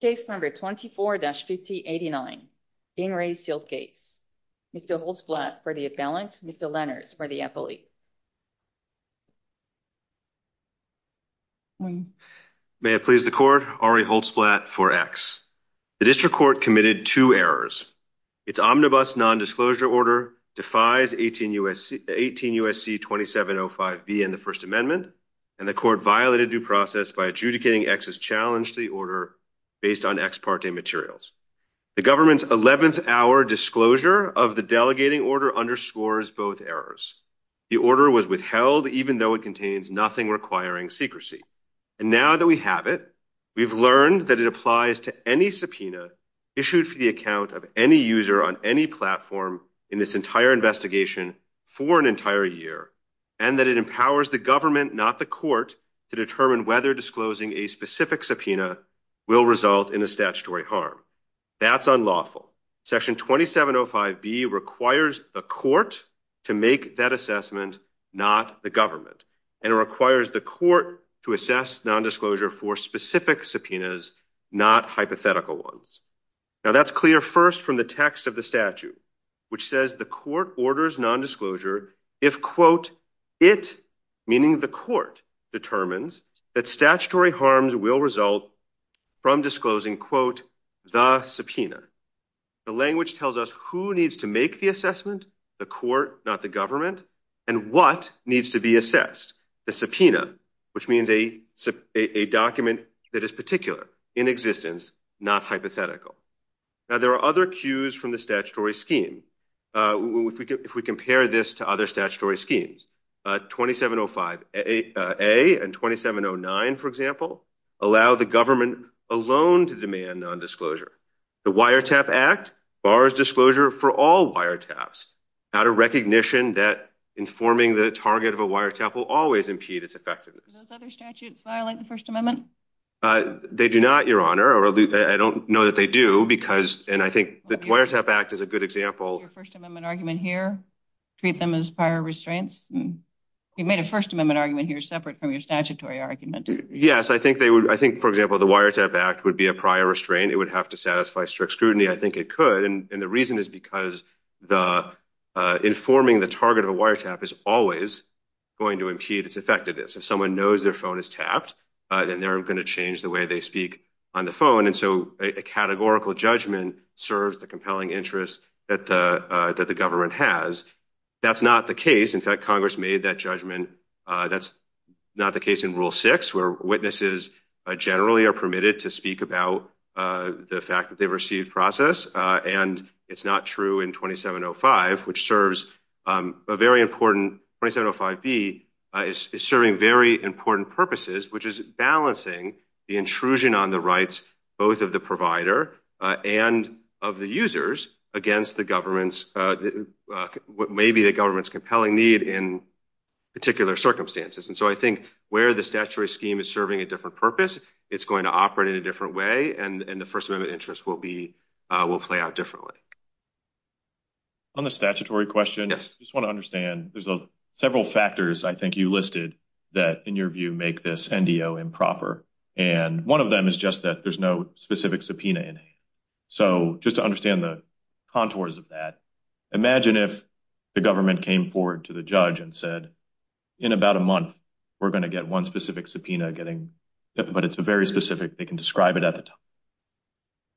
Case number 24-5089, Bing Rae Sealed Case. Mr. Holtzblatt for the appellant, Mr. Lenners for the appellate. May it please the court, Ari Holtzblatt for X. The district court committed two errors. Its omnibus non-disclosure order defies 18 U.S.C. 2705B in the First Amendment and the court violated due process by adjudicating X's challenge to the order based on ex parte materials. The government's 11th hour disclosure of the delegating order underscores both errors. The order was withheld even though it contains nothing requiring secrecy. And now that we have it, we've learned that it applies to any subpoena issued for the account of any user on any platform in this entire investigation for an entire year and that it empowers the government, not the court, to determine whether disclosing a specific subpoena will result in a statutory harm. That's unlawful. Section 2705B requires the court to make that assessment, not the government. And it requires the court to assess non-disclosure for specific subpoenas, not hypothetical ones. Now that's clear first from the text of the statute, which says the court orders non-disclosure if, quote, it, meaning the court, determines that statutory harms will result from disclosing, quote, the subpoena. The language tells us who needs to make the assessment, the court, not the government, and what needs to be assessed, the subpoena, which means a document that is particular in existence, not hypothetical. Now there are other cues from the statutory scheme. If we compare this to other statutory schemes, 2705A and 2709, for example, allow the government alone to demand non-disclosure. The Wiretap Act bars disclosure for all wiretaps out of recognition that informing the target of a wiretap will always impede its effectiveness. Are those other statutes violating the First Amendment? They do not, Your Honor. I don't know that they do because, and I think the Wiretap Act is a good example. Is there a First Amendment argument here? Treat them as prior restraints? You made a First Amendment argument here separate from your statutory argument. Yes, I think they would, I think, for example, the Wiretap Act would be a prior restraint. It would have to satisfy strict scrutiny. I think it could, and the reason is because the informing the target of a wiretap is always going to impede its effectiveness. If someone knows their phone is tapped, then they're going to change the way they speak on the phone, and so a categorical judgment serves the compelling interest that the government has. That's not the case. In fact, Congress made that judgment. That's not the case in Rule 6, where witnesses generally are permitted to speak about the fact that they've received process, and it's not true in 2705, which serves a very important, 2705B is serving very important purposes, which is balancing the intrusion on the rights both of the provider and of the users against the government's, what may be the government's compelling need in particular circumstances, and so I think where the statutory scheme is serving a different purpose, it's going to operate in a different way, and the First Amendment interest will play out differently. On the statutory question, I just want to understand, there's a several factors I think you listed that, in your view, make this NDO improper, and one of them is just that there's no specific subpoena in it, so just to understand the contours of that, imagine if the government came forward to the judge and said, in about a month, we're going to get one specific subpoena getting, but it's a very specific, they can describe it at the time.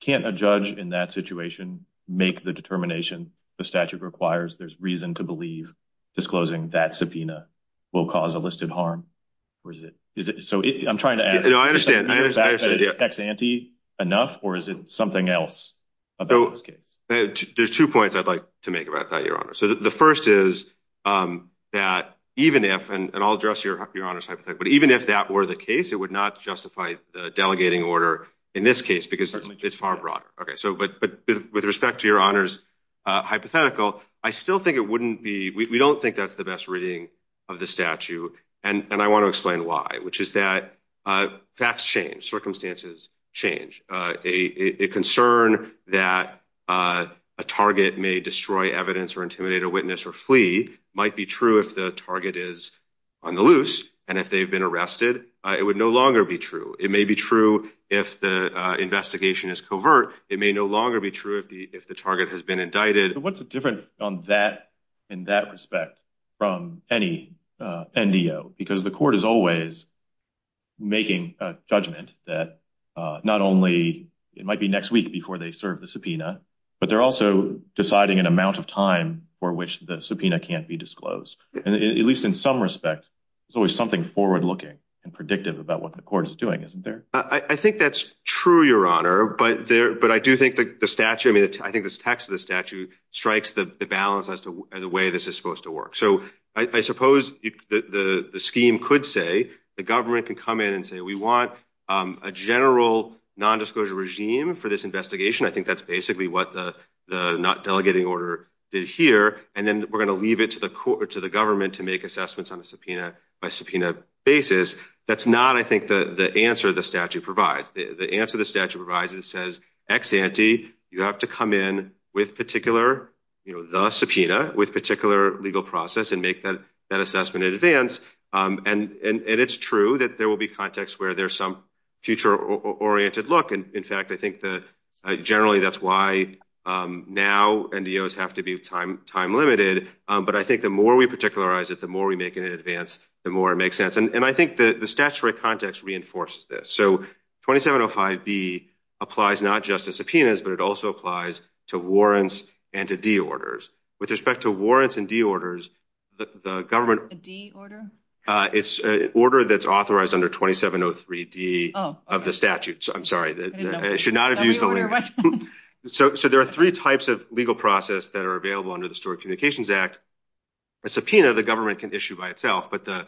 Can't a judge in that situation make the determination the statute requires, there's reason to believe disclosing that subpoena will cause a listed harm, or is it, so I'm trying to, I understand, is it enough, or is it something else? So there's two points I'd like to make about that, your honor. So the first is that even if, and I'll address your honor's hypothetical, but even if that were the case, it would not justify delegating order in this case, because it's far broader. Okay, so but with respect to your honor's hypothetical, I still think it wouldn't be, we don't think that's the best reading of the statute, and I want to explain why, which is that facts change, circumstances change. A concern that a target may destroy evidence or intimidate a witness or flee might be true if the target is on the loose, and if they've been arrested, it would no longer be true. It may be true if the investigation is covert, it may no longer be true if the target has been indicted. What's the difference on that, in that respect, from any NDO? Because the court is always making a judgment that not only it might be next week before they serve the subpoena, but they're also deciding an amount of time for which the subpoena can't be disclosed. And at least in some respect, there's always something forward-looking and predictive about what the court is doing, isn't there? I think that's true, your honor, but there, but I do think that the statute, I mean, I think this text of the statute strikes the balance as to the way this is supposed to work. So I suppose the scheme could say, the government can come in and say, we want a general non-disclosure regime for this investigation. I think that's basically what the not delegating order is here, and then we're going to leave it to the court, to the government to make assessments on a subpoena basis. That's not, I think, the answer the statute provides. The answer the statute provides is, it says, ex ante, you have to come in with particular, you know, the subpoena with particular legal process and make that assessment in advance. And it's true that there will be contexts where there's some future-oriented look. In fact, I think that generally that's why now NDOs have to be time-limited, but I think the more we particularize it, the more we make it in advance, the more it makes sense. And I think the statutory context reinforces this. So 2705B applies not just to subpoenas, but it also applies to warrants and to de-orders. With respect to warrants and de-orders, the government... A de-order? It's an order that's authorized under 2703D of the statute. I'm sorry, I should not have used the language. So there are three types of legal process that are available under the Store Communications Act. A subpoena, the government can issue by itself, but the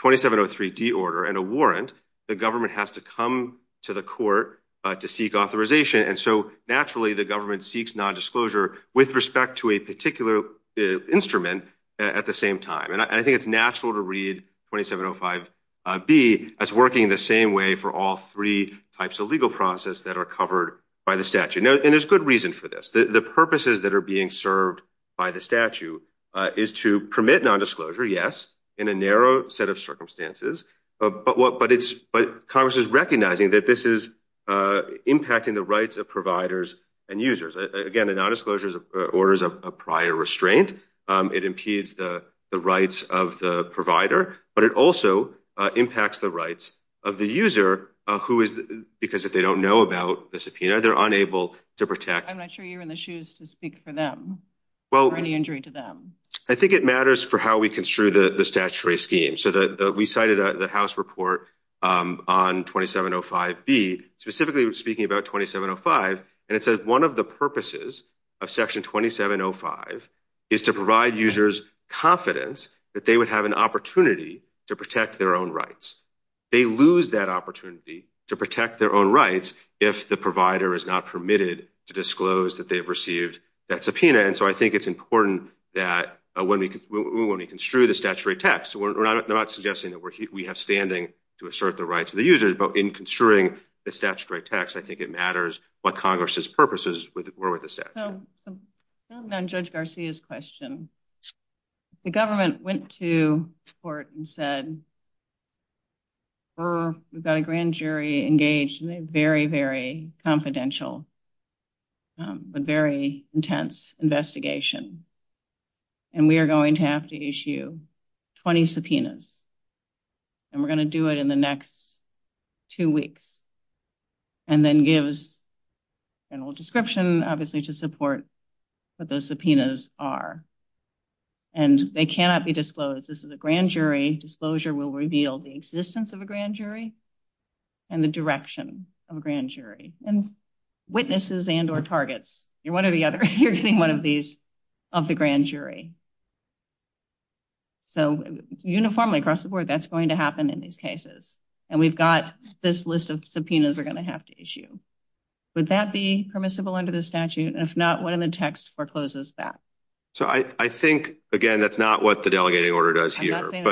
2703D order and a warrant, the government has to come to the court to seek authorization, and so naturally the government seeks non-disclosure with respect to a particular instrument at the same time. And I think it's natural to read 2705B as working the same way for all three types of legal process that are covered by the statute. And there's good reason for this. The purposes that are being served by the statute is to permit non-disclosure, yes, in a narrow set of circumstances, but Congress is recognizing that this is impacting the rights of providers and users. Again, the non-disclosure is orders of prior restraint. It impedes the rights of the provider, but it also impacts the rights of the user, because if they don't know about the subpoena, they're unable to protect... I'm not sure you're in the shoes to speak for them, or any injury to them. I think it matters for how we read 2705B, specifically speaking about 2705, and it says one of the purposes of section 2705 is to provide users confidence that they would have an opportunity to protect their own rights. They lose that opportunity to protect their own rights if the provider is not permitted to disclose that they've received that subpoena, and so I think it's important that when we construe the statutory text, we're not suggesting that we have standing to assert the rights of the users, but in construing the statutory text, I think it matters what Congress's purposes were with the statute. So, on Judge Garcia's question, the government went to court and said, we've got a grand jury engaged in a very, very confidential, but very intense investigation, and we are going to have to issue 20 subpoenas, and we're going to do it in the next two weeks, and then gives a general description, obviously, to support what those subpoenas are, and they cannot be disclosed. This is a grand jury. Disclosure will reveal the existence of a grand jury and the direction of a grand jury, and witnesses and or targets. You're one or the other. You're seeing one of these of the grand jury. So, uniformly across the board, that's going to happen in these cases, and we've got this list of subpoenas we're going to have to issue. Would that be permissible under the statute? If not, when the text forecloses that? So, I think, again, that's not what the delegating order does here, but I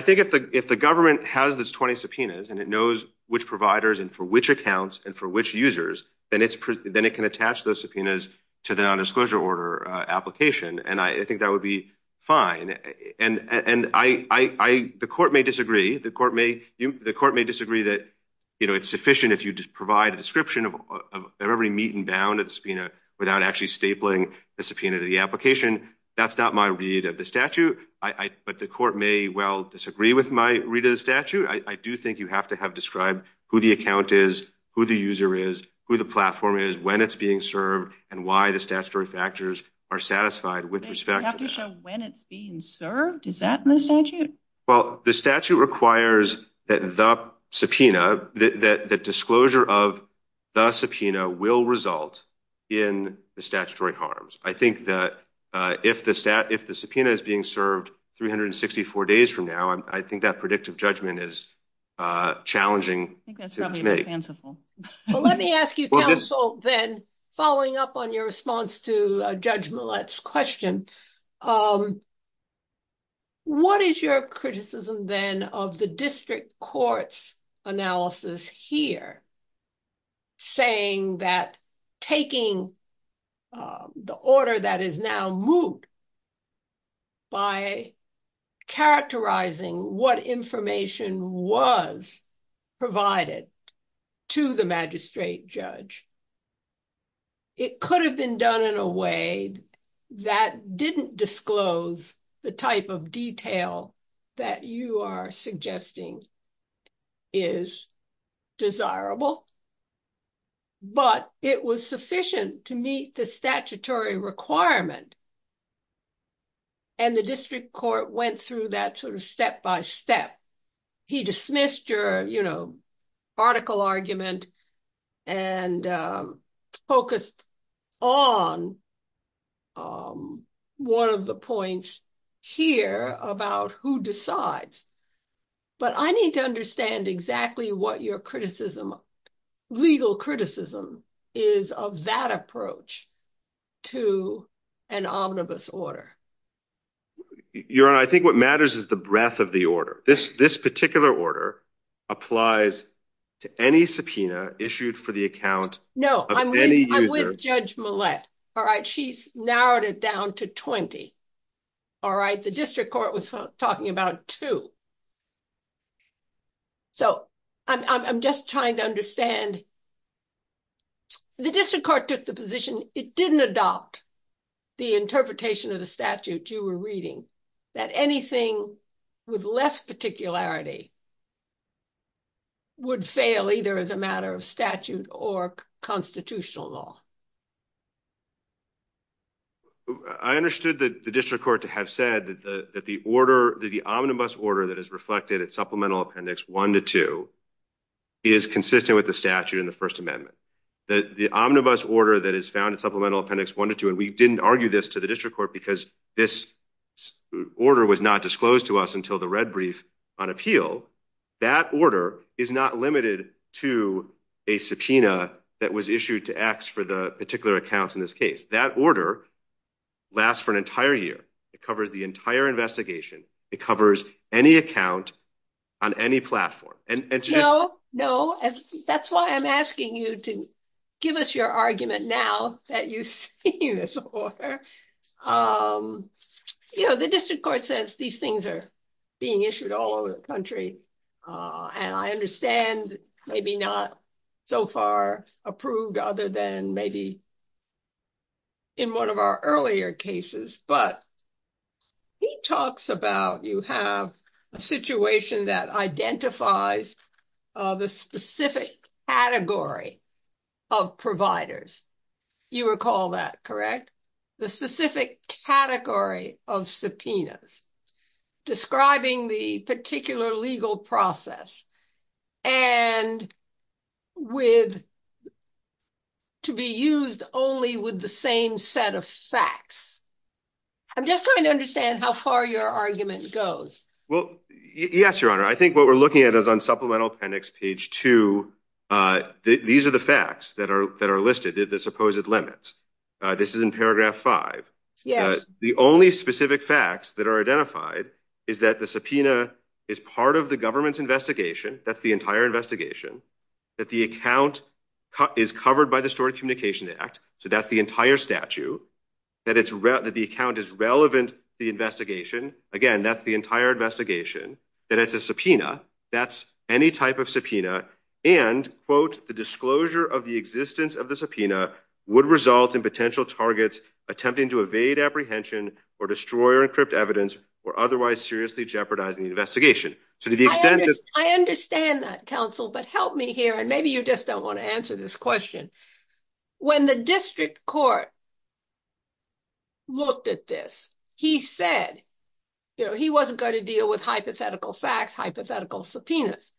think if the government has this 20 subpoenas, and it knows which providers and for which accounts and for which users, then it can attach those subpoenas to the fine, and the court may disagree. The court may disagree that, you know, it's sufficient if you just provide a description of every meet-and-bound of the subpoena without actually stapling the subpoena to the application. That's not my read of the statute, but the court may well disagree with my read of the statute. I do think you have to have described who the account is, who the user is, who the platform is, when it's being served, and why the statutory factors are satisfied with respect to the statute. Well, the statute requires that the subpoena, that the disclosure of the subpoena, will result in the statutory harms. I think that if the subpoena is being served 364 days from now, I think that predictive judgment is challenging. Let me ask you, counsel, then, following up on your response to Judge Millett's question, what is your criticism, then, of the district court's analysis here, saying that taking the order that is now moot by characterizing what information was provided to the magistrate judge, it could have been done in a way that didn't disclose the type of detail that you are suggesting is desirable, but it was sufficient to meet the statutory requirement and the court went through that sort of step-by-step. He dismissed your, you know, article argument and focused on one of the points here about who decides. But I need to understand exactly what your criticism, legal criticism, is of that approach to an omnibus order. Your Honor, I think what matters is the breadth of the order. This particular order applies to any subpoena issued for the account of any user. No, I'm with Judge Millett. All right, she's narrowed it down to 20. All right, the district court was talking about two, so I'm just trying to understand. The district court took the position it didn't adopt the interpretation of the statute you were reading, that anything with less particularity would fail, either as a matter of statute or constitutional law. I understood that the district court to have said that the order, that the omnibus order that is reflected at supplemental appendix 1 to 2 is consistent with the statute in the First Amendment. That the omnibus order that is found in supplemental appendix 1 to 2, and we didn't argue this to the district court because this order was not disclosed to us until the red brief on appeal, that order is not limited to a subpoena that was issued to ask for the particular accounts in this case. That order lasts for an entire year. It covers the entire investigation. It covers any account on any platform. No, no, that's why I'm asking you to give us your argument now that you see this order. You know, the district court says these things are being issued all over the country, and I understand maybe not so far approved other than maybe in one of our earlier cases, but he talks about you have a situation that identifies the specific category of providers. You recall that, correct? The specific category of subpoenas describing the particular legal process and with, to be used only with the same set of facts. I'm just trying to understand how far your argument goes. Well, yes, Your Honor. I think what we're looking at is on the supplemental appendix, page 2, these are the facts that are listed, the supposed limits. This is in paragraph 5. The only specific facts that are identified is that the subpoena is part of the government's investigation, that's the entire investigation, that the account is covered by the Historic Communication Act, so that's the entire statute, that the account is relevant to the investigation, again, that's the entire investigation, and it's a subpoena, that's any type of subpoena, and, quote, the disclosure of the existence of the subpoena would result in potential targets attempting to evade apprehension or destroy or encrypt evidence or otherwise seriously jeopardizing the investigation. I understand that, counsel, but help me here, and maybe you just don't want to answer this question. When the district court looked at this, he said, you know, he wasn't going to deal with hypothetical facts, hypothetical subpoenas,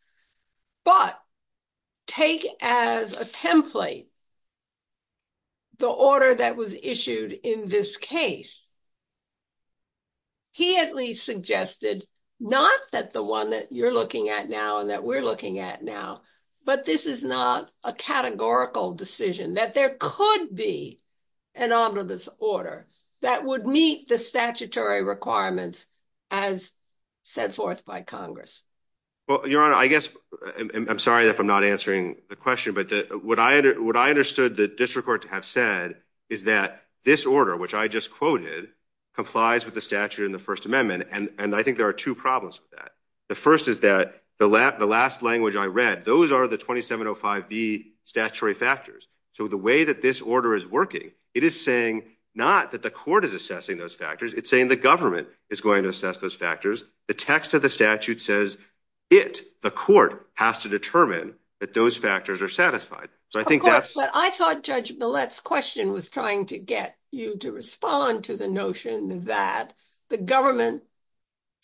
but take as a template the order that was issued in this case. He at least suggested not that the one that you're looking at now and that we're looking at now, but this is not a categorical decision, that there could be an omnibus order that would meet the statutory requirements as set forth by Congress. Well, Your Honor, I guess, I'm sorry if I'm not answering the question, but what I understood the district court to have said is that this order, which I just quoted, complies with the statute in the First Amendment, and I think there are two problems with that. The first is that the last language I read, those are the 2705B statutory factors, so the way that this order is working, it is saying not that the court is assessing those factors, it's saying the government is going to assess those factors. The text of the statute says it, the court, has to determine that those factors are satisfied. Of course, but I thought Judge Millett's question was trying to get you to respond to the notion that the government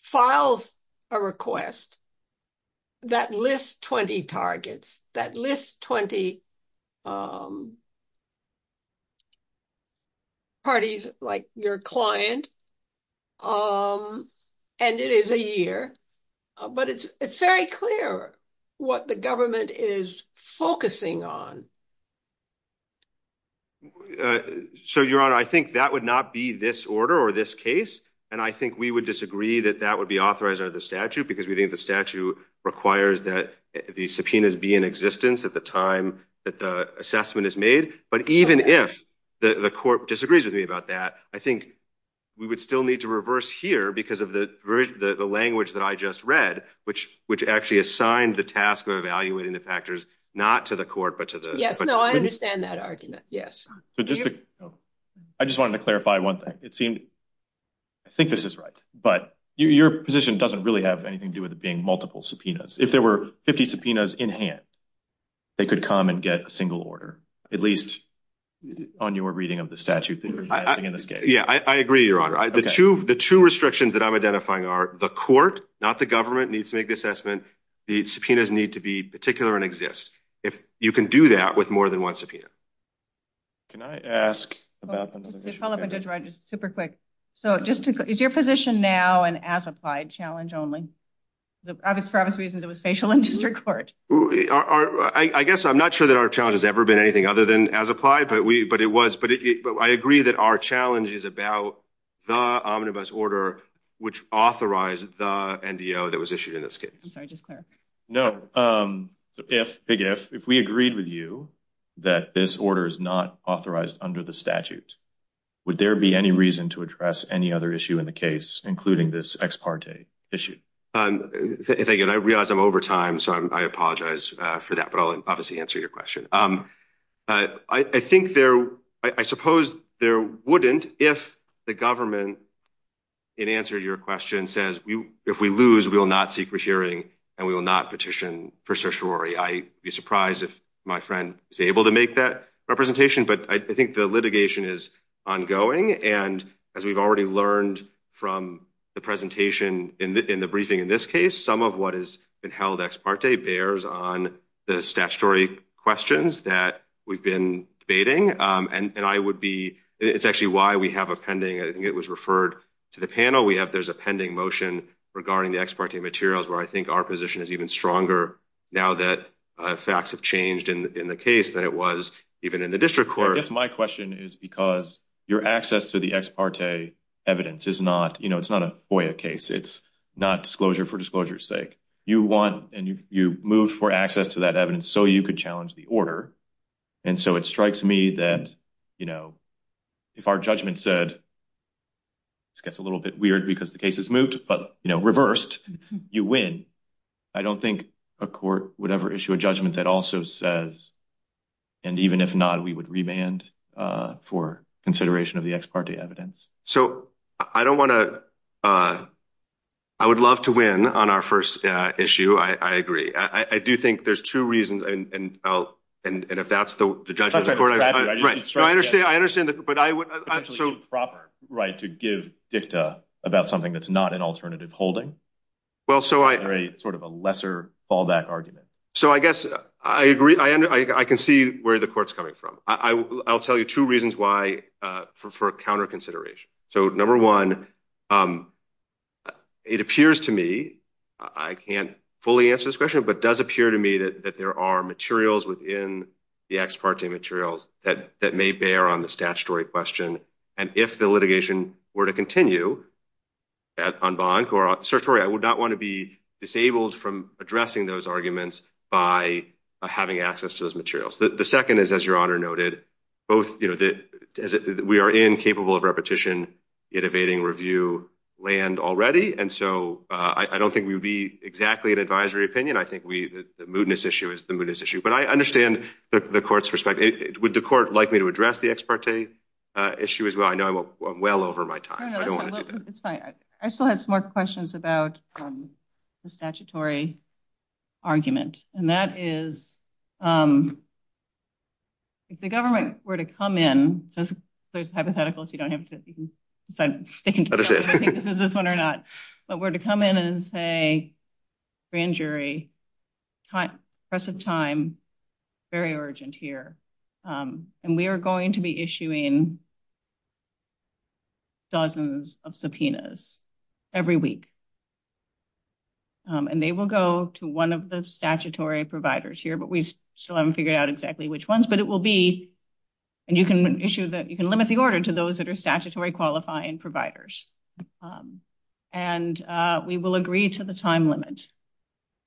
files a request that lists 20 targets, that lists 20 parties like your client, and it is a year, but it's very clear what the government is focusing on. So, Your Honor, I think that would not be this order or this case, and I think we would disagree that that would be authorized under the statute because we think the statute requires that the subpoenas be in existence at the time that the assessment is made, but even if the court disagrees with me about that, I think we would still need to reverse here because of the language that I just read, which actually assigned the task of evaluating the factors not to the court, but to the... Yes, no, I understand that argument, yes. I just wanted to clarify one thing. It seemed, I think this is right, but your position doesn't really have anything to do with it being multiple subpoenas. If there were 50 subpoenas in hand, they could come and get a single order, at least on your reading of the statute. Yeah, I agree, Your Honor. The two restrictions that I'm identifying are the court, not the government, needs to make the assessment, the subpoenas need to be particular and exist. If you can do that with more than one subpoena. Can I I guess I'm not sure that our challenge has ever been anything other than as applied, but we, but it was, but I agree that our challenge is about the omnibus order which authorized the NDO that was issued in this case. No, if we agreed with you that this order is not authorized under the statute, would there be any reason to address any other issue in the case, including this ex parte issue? Thank you. I realize I'm over time, so I apologize for that, but I'll obviously answer your question. I think there, I suppose there wouldn't if the government, in answer to your question, says if we lose we will not seek a hearing and we will not petition for certiorari. I'd be surprised if my friend is able to make that representation, but I think the litigation is ongoing and as we've already learned from the presentation in the briefing in this case, some of what has been held ex parte bears on the statutory questions that we've been debating and I would be, it's actually why we have a pending, I think it was referred to the panel, we have there's a pending motion regarding the ex parte materials where I think our position is even stronger now that facts have changed in the case than it was even in the district court. I guess my question is because your access to the ex parte evidence is not, you know, it's not a FOIA case, it's not disclosure for disclosure's sake. You want and you move for access to that evidence so you could challenge the order and so it strikes me that, you know, if our judgment said, this gets a little bit weird because the case is moved, but you know reversed, you win. I don't think a court would ever issue a judgment that also says and even if not we would remand for consideration of the ex parte evidence. So I don't want to, I would love to win on our first issue, I agree. I do think there's two reasons and if that's the judgment of the court, I understand that, but I would, right, to give FIFTA about something that's not an alternative holding. Well, so I, sort of a lesser fallback argument. So I guess I agree, I can see where the court's coming from. I'll tell you two reasons why for counter consideration. So number one, it appears to me, I can't fully answer this question, but does appear to me that there are materials within the ex parte materials that may bear on the statutory question and if the litigation were to continue on bond or on certory, I would not want to be disabled from addressing those arguments by having access to those materials. The second is, as your Honor noted, both, you know, that we are incapable of repetition in evading review land already and so I don't think we would be exactly an advisory opinion. I think we, the mootness issue is the mootness issue, but I understand the court's perspective. Would the court like me to address the ex parte issue as well? I know I'm well over my time. I still have some more questions about the statutory argument and that is, if the government were to come in, so it's hypothetical, so you don't have to decide if this is this one or not, but were to come in and say, grand jury, press of time, very urgent here, and we are going to be issuing dozens of subpoenas every week and they will go to one of the statutory providers here, but we still haven't figured out exactly which ones, but it will be, and you can issue that, you can limit the order to those that are statutory qualifying providers and we will agree to the time limit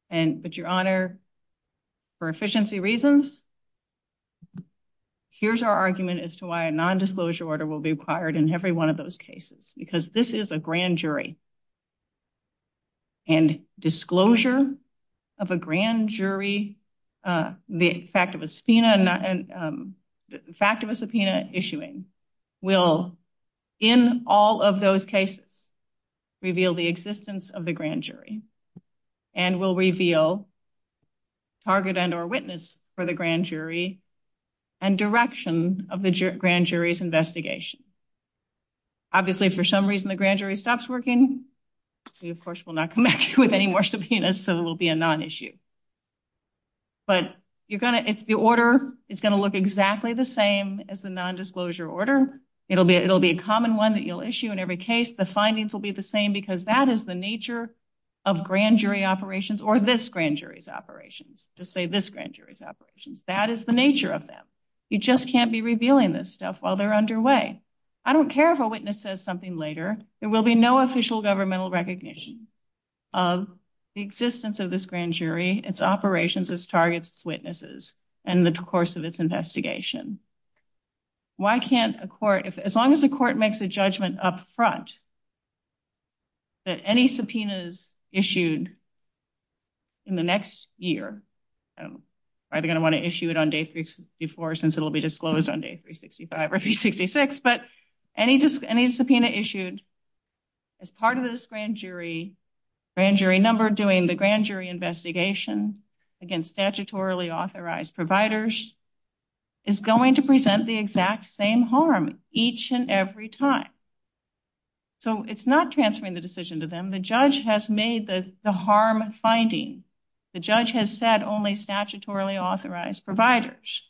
and, but your Honor, for efficiency reasons, here's our argument as to why a non-disclosure order will be required in every one of those cases, because this is a grand jury and disclosure of a grand jury, the fact of a subpoena issuing, will, in all of those cases, reveal the existence of the grand jury and will reveal target and or witness for the grand jury and direction of the grand jury's investigation. Obviously, if for some reason the grand jury stops working, we of course will not come back with any more subpoenas, so it will be a non-issue, but you're gonna, if the order is going to look exactly the same as the non-disclosure order, it'll be, it'll be a common one that you'll issue in every case, the findings will be the same, because that is the nature of grand jury operations or this grand jury's operations. That is the nature of them. You just can't be revealing this stuff while they're underway. I don't care if a witness says something later, there will be no official governmental recognition of the existence of this grand jury, its operations, its targets, its witnesses, and the course of its investigation. Why can't a court, if as long as the court makes a judgment up front that any subpoenas issued in the next year, I'm either gonna want to issue it on day 364 since it'll be disclosed on day 365 or 366, but any just any subpoena issued as part of this grand jury, grand jury number doing the grand jury investigation against statutorily authorized providers is going to present the exact same harm each and every time. So it's not transferring the decision to them. The judge has made the harm finding. The judge has said only statutorily authorized providers,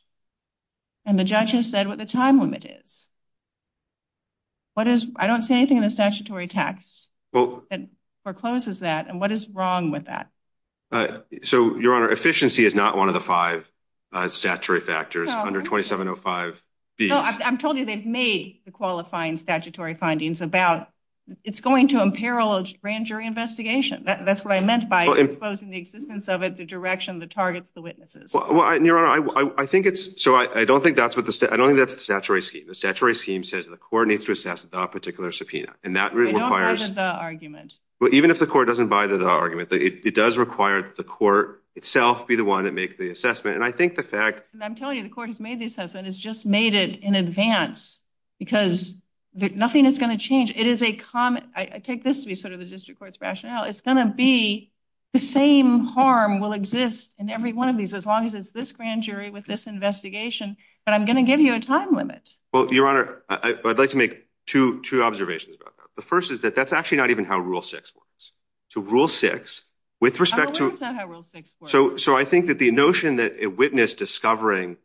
and the judge has said what the time limit is. What is, I don't see anything in the statutory text that forecloses that, and what is wrong with that? So your honor, efficiency is not one of the five statutory factors under 2705. I'm told you they've made the qualifying statutory findings about, it's going to imperil a grand jury investigation. That's what I meant by exposing the existence of it, the direction, the targets, the witnesses. Well, your honor, I think it's, so I don't think that's what the, I don't think that's the statutory scheme. The statutory scheme says the court needs to assess the particular subpoena, and that requires, well even if the court doesn't buy the argument, it does require the court itself be the one to make the assessment, and I think the fact... I'm telling you, the court has made the assessment, it's just made it in advance, because nothing is going to change. It is a common, I take this to be sort of the district court's rationale, it's going to be the same harm will exist in every one of these, as long as it's this grand jury with this investigation, but I'm going to give you a time limit. Well, your honor, I'd like to make two observations. The first is that that's actually not even how rule six works. So rule six, with respect to... So I think that the notion that a witness discovering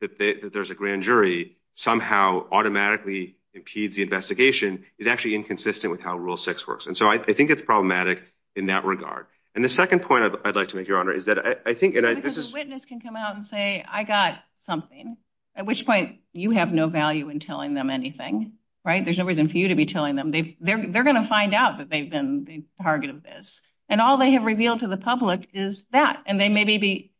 that there's a grand jury somehow automatically impedes the investigation is actually inconsistent with how rule six works, and so I think it's problematic in that regard. And the second point I'd like to make, your honor, is that I think... The witness can come out and say, I got something, at which point you have no value in telling them anything, right? There's no reason for you to be telling them. They're gonna find out that they've been the target of this, and all they have revealed to the public is that. And they may be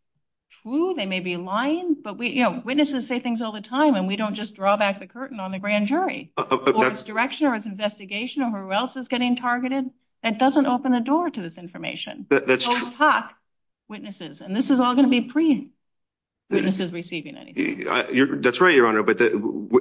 true, they may be lying, but we, you know, witnesses say things all the time, and we don't just draw back the curtain on the grand jury. Or it's direction, or it's investigation of who else is getting targeted, that doesn't open the door to this information. That's true. And this is all going to be pre-witnesses receiving anything. That's right, your honor, but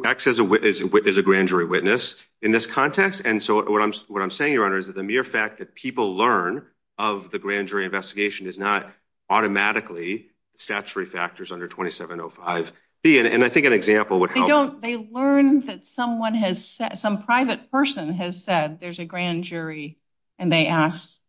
actually as a witness, as a grand jury witness, in this context, and so what I'm saying, your honor, is that the mere fact that people learn of the grand jury investigation is not automatically statutory factors under 2705B, and I think an example would help. They learn that someone has said, some private person has said, there's a grand jury, and they asked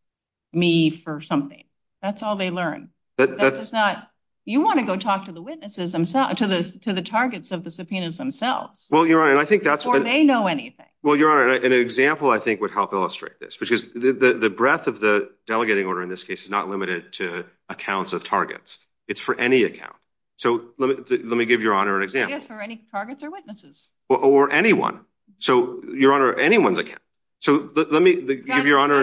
me for something. That's all they learn. That's not... You want to go talk to the witnesses themselves, to the targets of the subpoenas themselves. Well, your honor, I think that's... Or they know anything. Well, your honor, an example I think would help illustrate this, which is the breadth of the delegating order, in this case, is not limited to accounts of targets. It's for any account. So let me give your honor an example. It's for any targets or witnesses. Or anyone. So, your honor, anyone's account. So let me give your honor...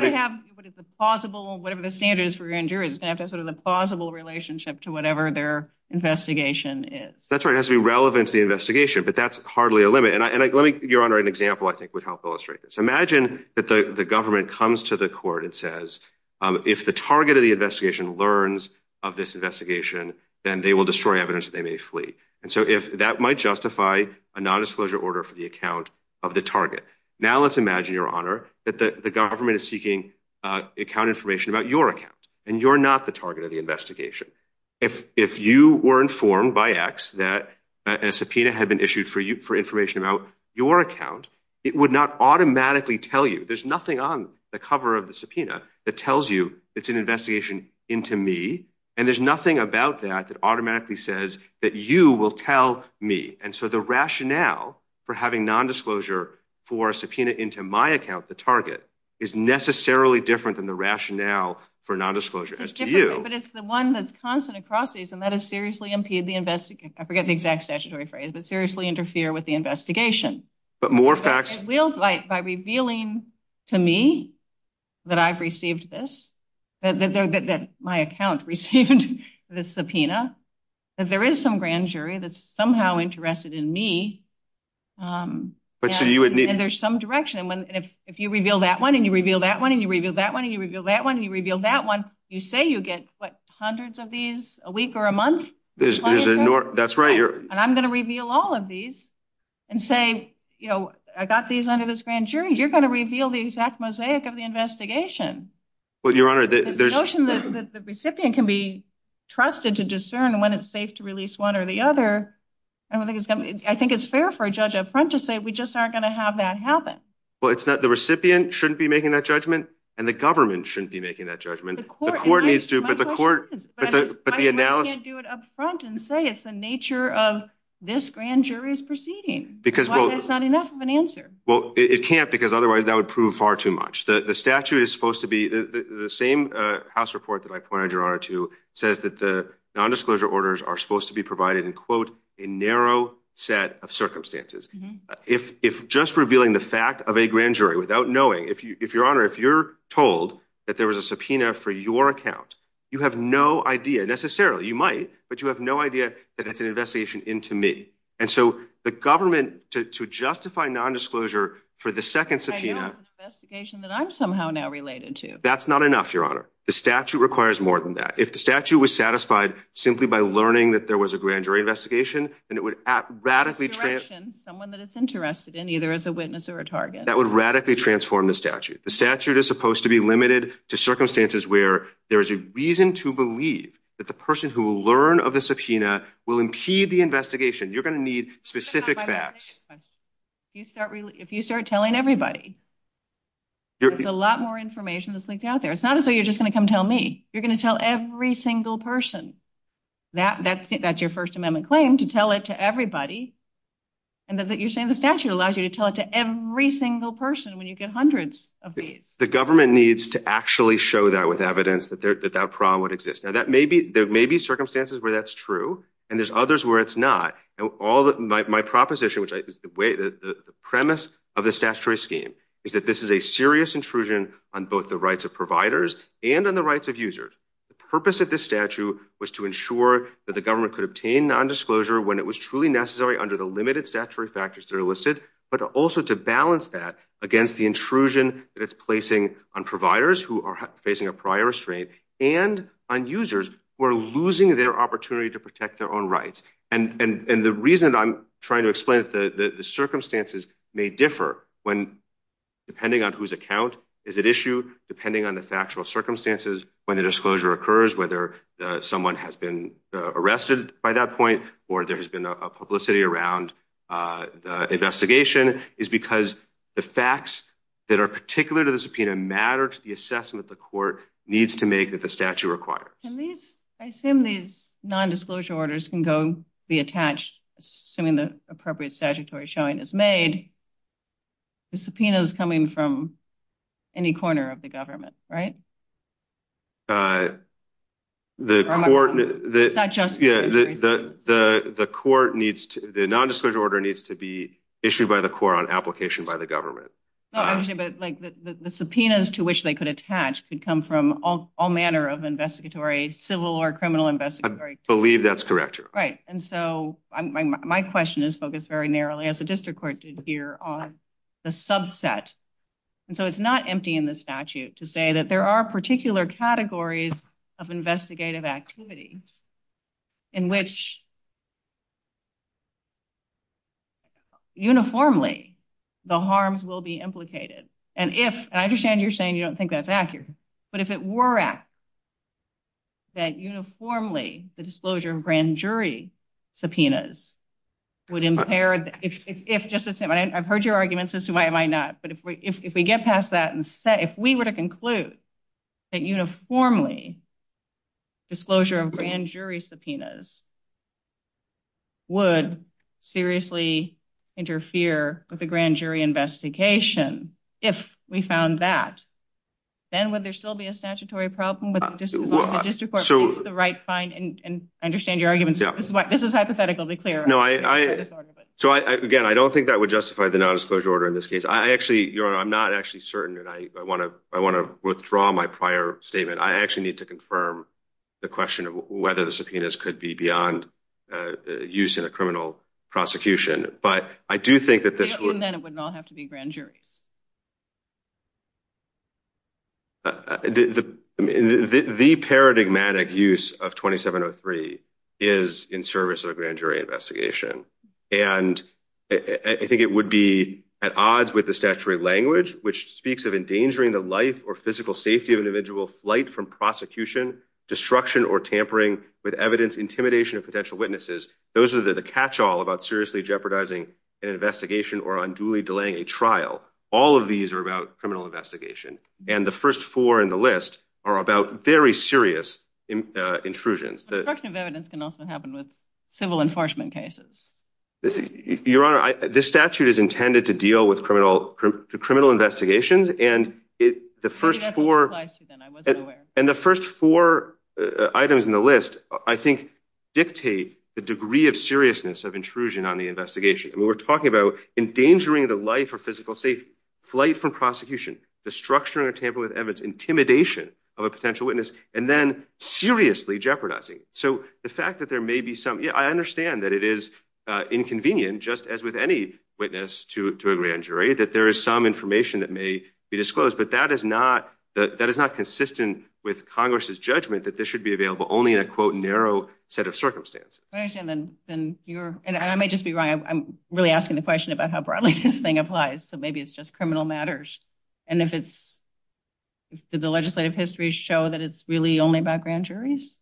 Whatever the standard is for a grand jury, it's going to have to have a plausible relationship to whatever their investigation is. That's right, it has to be relevant to the investigation. So, your honor, an example, I think, would help illustrate this. Imagine that the government comes to the court and says, if the target of the investigation learns of this investigation, then they will destroy evidence that they may flee. And so, if that might justify a non-disclosure order for the account of the target. Now, let's imagine, your honor, that the government is seeking account information about your account, and you're not the target of the investigation. If you were informed by X that a subpoena had been issued for information about your account, it would not automatically tell you. There's nothing on the cover of the subpoena that tells you it's an investigation into me, and there's nothing about that that automatically says that you will tell me. And so, the rationale for having non-disclosure for a subpoena into my account, the target, is necessarily different than the rationale for non-disclosure as to you. But it's the one that's constant across these, and that is seriously impede the investigation. I forget the exact statutory phrase, but seriously interfere with the investigation. But more facts. By revealing to me that I've received this, that my account received the subpoena, that there is some grand jury that's somehow interested in me, and there's some direction, and if you reveal that one, and you reveal that one, and you reveal that one, and you reveal that one, and you reveal that one, you say you get what, hundreds of these a week or a month? That's right. And I'm going to reveal all of these and say, you know, I got these under this grand jury. You're going to reveal the exact mosaic of the investigation. But, Your Honor, the notion that the recipient can be trusted to discern when it's safe to release one or the other, I think it's fair for a judge up front to say we just aren't going to have that happen. Well, it's not, the recipient shouldn't be making that judgment, and the government shouldn't be making that judgment. The court needs to, but the court, but the analysis... I can't do it up front and say it's the nature of this grand jury's proceeding. Because, well... That's not enough of an answer. Well, it can't, because otherwise that would prove far too much. The statute is supposed to be, the same house report that I pointed Your Honor to says that the nondisclosure orders are supposed to be provided in, quote, a narrow set of circumstances. If just revealing the fact of a grand jury without knowing, if Your Honor, if you're told that there was a subpoena for your account, you have no idea necessarily, you might, but you have no idea that it's an investigation into me. And so the government, to justify nondisclosure for the second subpoena... I know it's an investigation that I'm somehow now related to. That's not enough, Your Honor. The statute requires more than that. If the statute was satisfied simply by learning that there was a grand jury investigation, then it would radically... Someone that it's interested in, either as a witness or a target. That would radically transform the statute. The statute is supposed to be limited to circumstances where there's a reason to believe that the person who will learn of the subpoena will impede the investigation. You're going to need specific facts. If you start telling everybody, there's a lot more information that's leaked out there. It's not as though you're just going to come tell me. You're going to tell every single person. That's your First Amendment claim, to tell it to everybody, and that you're saying the statute allows you to tell it to every single person when you get hundreds of these. The government needs to actually show that with evidence that that problem would exist. Now, there may be circumstances where that's true, and there's others where it's not. My proposition, which is the premise of the statutory scheme, is that this is a serious intrusion on both the rights of providers and on the rights of users. The purpose of this statute was to ensure that the government could obtain nondisclosure when it was truly necessary under the limited statutory factors that are listed, but also to balance that against the intrusion that it's placing on providers who are facing a prior restraint and on users who are losing their opportunity to protect their own rights. The reason I'm trying to explain that the circumstances may differ depending on whose account is at issue, depending on the factual circumstances when the disclosure occurs, whether someone has been arrested by that point, or there has been a publicity around the investigation, is because the facts that are particular to the subpoena matter to the assessment the court needs to make that the statute requires. I assume these nondisclosure orders can go be attached assuming the appropriate statutory showing is made. The subpoena is coming from any corner of the government, right? The nondisclosure order needs to be issued by the court on application by the government. The subpoenas to which they could attach could come from all manner of investigatory, civil or criminal investigatory. I believe that's correct. Right. And so my question is focused very narrowly, as the district court did here, on the subset. And so it's not empty in the statute to say that there are particular categories of investigative activities in which uniformly the harms will be implicated. And if, and I understand you're saying you don't think that's accurate, but if it were at that uniformly the disclosure of grand jury subpoenas would impair, if just to say, I've heard your arguments as to why am I not, but if we get past that and say, if we were to conclude that uniformly disclosure of grand jury subpoenas would seriously interfere with the grand jury investigation, if we found that, then would there still be a statutory problem with the district court? The district court needs to find and understand your arguments. This is hypothetical, be clear. No, I, so again, I don't think that would justify the nondisclosure order in this case. I actually, you know, I'm not actually certain and I want to, I want to withdraw my prior statement. I actually need to confirm the question of whether the subpoenas could be beyond use in a criminal prosecution. But I do think that this would not have to be grand jury. The paradigmatic use of 2703 is in service of grand jury investigation. And I think it would be at odds with the statutory language, which speaks of endangering the life or physical safety of individual flight from prosecution, destruction or tampering with evidence, intimidation of potential witnesses. Those are the catch all about seriously jeopardizing an investigation or unduly delaying a trial. All of these are about criminal investigation. And the first four in the list are about very serious intrusions. Destruction of evidence can also happen with civil enforcement cases. Your Honor, this statute is intended to deal with criminal investigations. And the first four items in the list, I think, dictate the degree of seriousness of intrusion on the investigation. We're talking about endangering the life or physical safety, flight from prosecution, destruction or tampering with evidence, intimidation of a potential witness, and then seriously jeopardizing. So the fact that there may be some. Yeah, I understand that it is inconvenient, just as with any witness to a grand jury, that there is some information that may be disclosed. But that is not that is not consistent with Congress's judgment that this should be available only in a, quote, narrow set of circumstances. And I may just be right. I'm really asking the question about how broadly this thing applies. So maybe it's just criminal matters. And if it's. The legislative history show that it's really only about grand juries.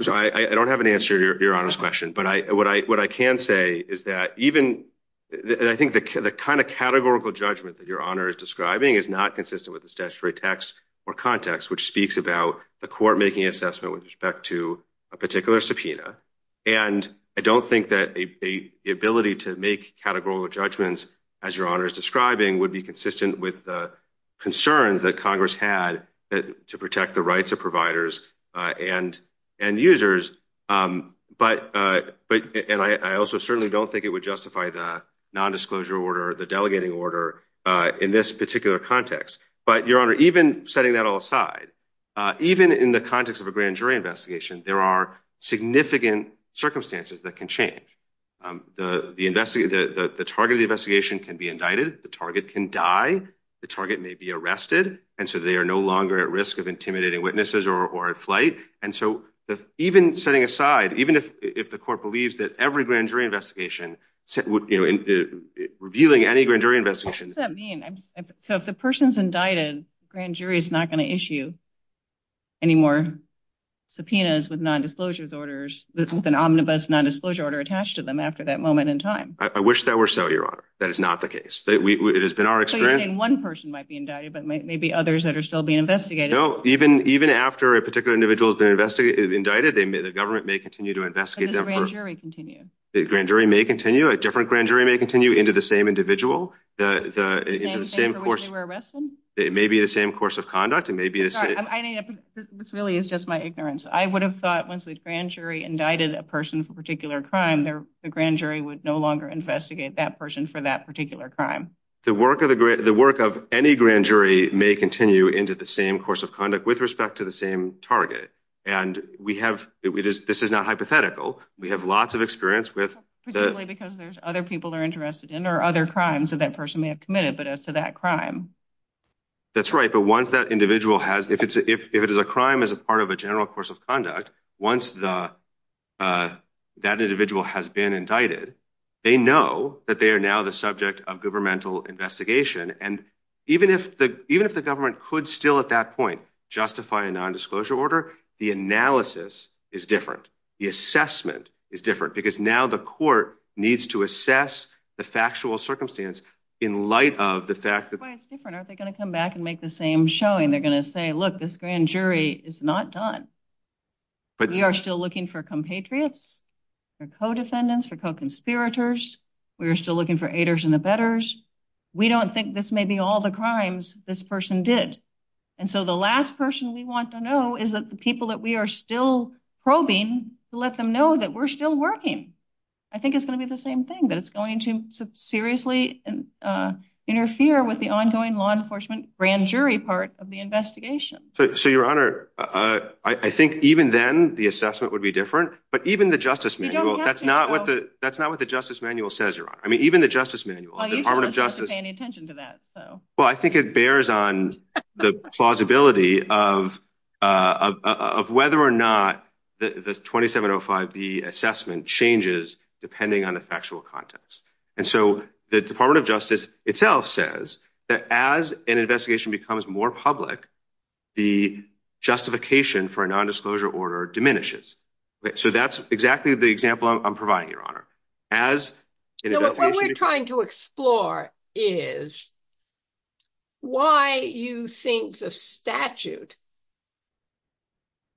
So I don't have an answer to your question, but I what I what I can say is that even I think the kind of categorical judgment that your honor is describing is not consistent with the statutory text or context, which speaks about the court making assessment with respect to a particular subpoena. And I don't think that the ability to make categorical judgments, as your honor is describing, would be consistent with the concerns that Congress had to protect the rights of providers and and users. But and I also certainly don't think it would justify the nondisclosure order, the delegating order in this particular context. But your honor, even setting that all aside, even in the context of a grand jury investigation, there are significant circumstances that can change the investigation that the target of the investigation can be indicted. The target can die. The target may be arrested. And so they are no longer at risk of intimidating witnesses or flight. And so even setting aside, even if the court believes that every grand jury investigation would be revealing any grand jury investigation. What does that mean? So if the person's indicted, grand jury is not going to issue any more subpoenas with nondisclosure orders, with an omnibus nondisclosure order attached to them after that moment in time. I wish that were so, your honor. That is not the case. So you're saying one person might be indicted, but maybe others that are still being investigated. No, even even after a particular individual is indicted, the government may continue to investigate them. But does the grand jury continue? The grand jury may continue. A different grand jury may continue into the same individual. It may be the same course of conduct. It may be the same. This really is just my ignorance. I would have thought once the grand jury indicted a person for a particular crime, the grand jury would no longer investigate that person for that particular crime. The work of the work of any grand jury may continue into the same course of conduct with respect to the same target. And we have this is not hypothetical. We have lots of experience with that. Because there's other people are interested in or other crimes that that person may have committed. But as to that crime. That's right. But once that individual has if it's if it is a crime as a part of a general course of conduct, once the that individual has been indicted, they know that they are now the subject of governmental investigation. And even if the even if the government could still at that point justify a nondisclosure order, the analysis is different. The assessment is different because now the court needs to assess the factual circumstance in light of the fact that it's different. Are they going to come back and make the same showing? They're going to say, look, this grand jury is not done. But we are still looking for compatriots or co-defendants or conspirators. We are still looking for haters and the betters. We don't think this may be all the crimes this person did. And so the last person we want to know is that the people that we are still probing to let them know that we're still working. I think it's going to be the same thing. That's going to seriously interfere with the ongoing law enforcement grand jury part of the investigation. So, your honor, I think even then the assessment would be different. But even the justice manual, that's not what the that's not what the justice manual says. I mean, even the justice manual, the Department of Justice, pay any attention to that. Well, I think it bears on the plausibility of of whether or not the twenty seven or five, the assessment changes depending on the factual context. And so the Department of Justice itself says that as an investigation becomes more public, the justification for a nondisclosure order diminishes. So that's exactly the example I'm providing, your honor, as we're trying to explore is. Why you think the statute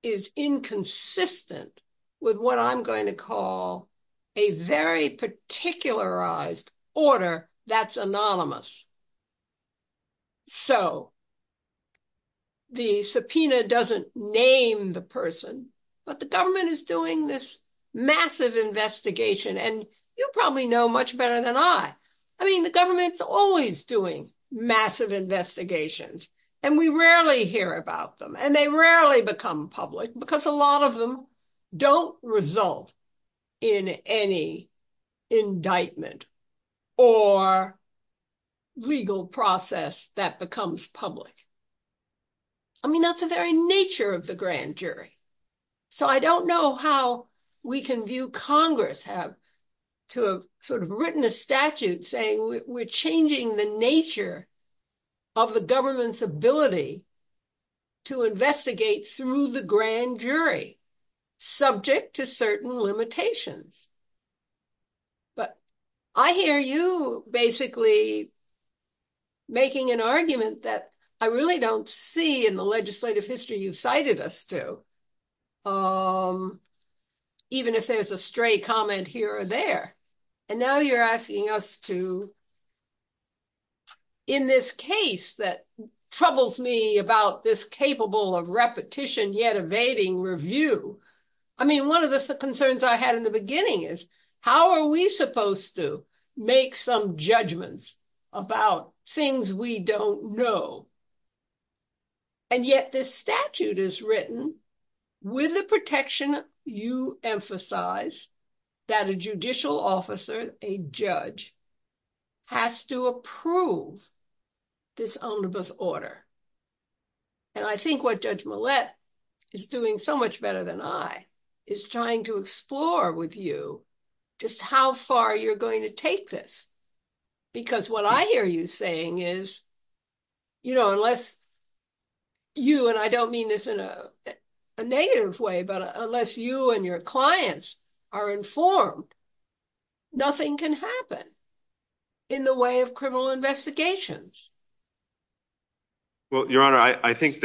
is inconsistent with what I'm going to call a very particularized order that's anonymous. So. The subpoena doesn't name the person, but the government is doing this massive investigation and you probably know much better than I. I mean, the government's always doing massive investigations and we rarely hear about them and they rarely become public because a lot of them don't result in any indictment or legal process that becomes public. I mean, that's the very nature of the grand jury. So I don't know how we can view Congress have to have sort of written a statute saying we're changing the nature of the government's ability to investigate through the grand jury subject to certain limitations. But I hear you basically making an argument that I really don't see in the legislative history you cited us to. Even if there's a stray comment here or there, and now you're asking us to. In this case that troubles me about this capable of repetition yet evading review. I mean, one of the concerns I had in the beginning is how are we supposed to make some judgments about things we don't know. And yet this statute is written with the protection you emphasize that a judicial officer, a judge, has to approve this omnibus order. And I think what Judge Millett is doing so much better than I is trying to explore with you just how far you're going to take this. Because what I hear you saying is, you know, unless you and I don't mean this in a negative way, but unless you and your clients are informed, nothing can happen in the way of criminal investigations. Well, Your Honor, I think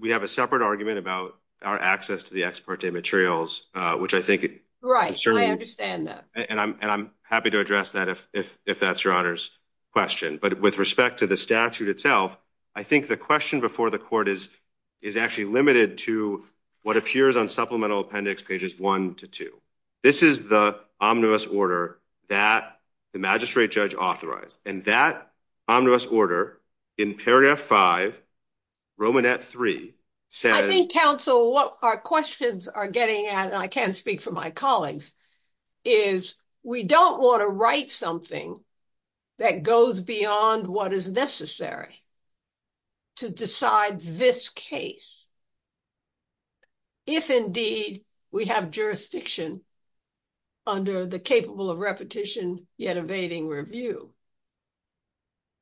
we have a separate argument about our access to the ex parte materials, which I think is concerning. Right, I understand that. And I'm happy to address that if that's Your Honor's question. But with respect to the statute itself, I think the question before the court is actually limited to what appears on supplemental appendix pages one to two. This is the omnibus order that the magistrate judge authorized. And that omnibus order in Paragraph 5, Romanette 3 says- I think, counsel, what our questions are getting at, and I can't speak for my colleagues, is we don't want to write something that goes beyond what is necessary to decide this case. If, indeed, we have jurisdiction under the capable of repetition yet evading review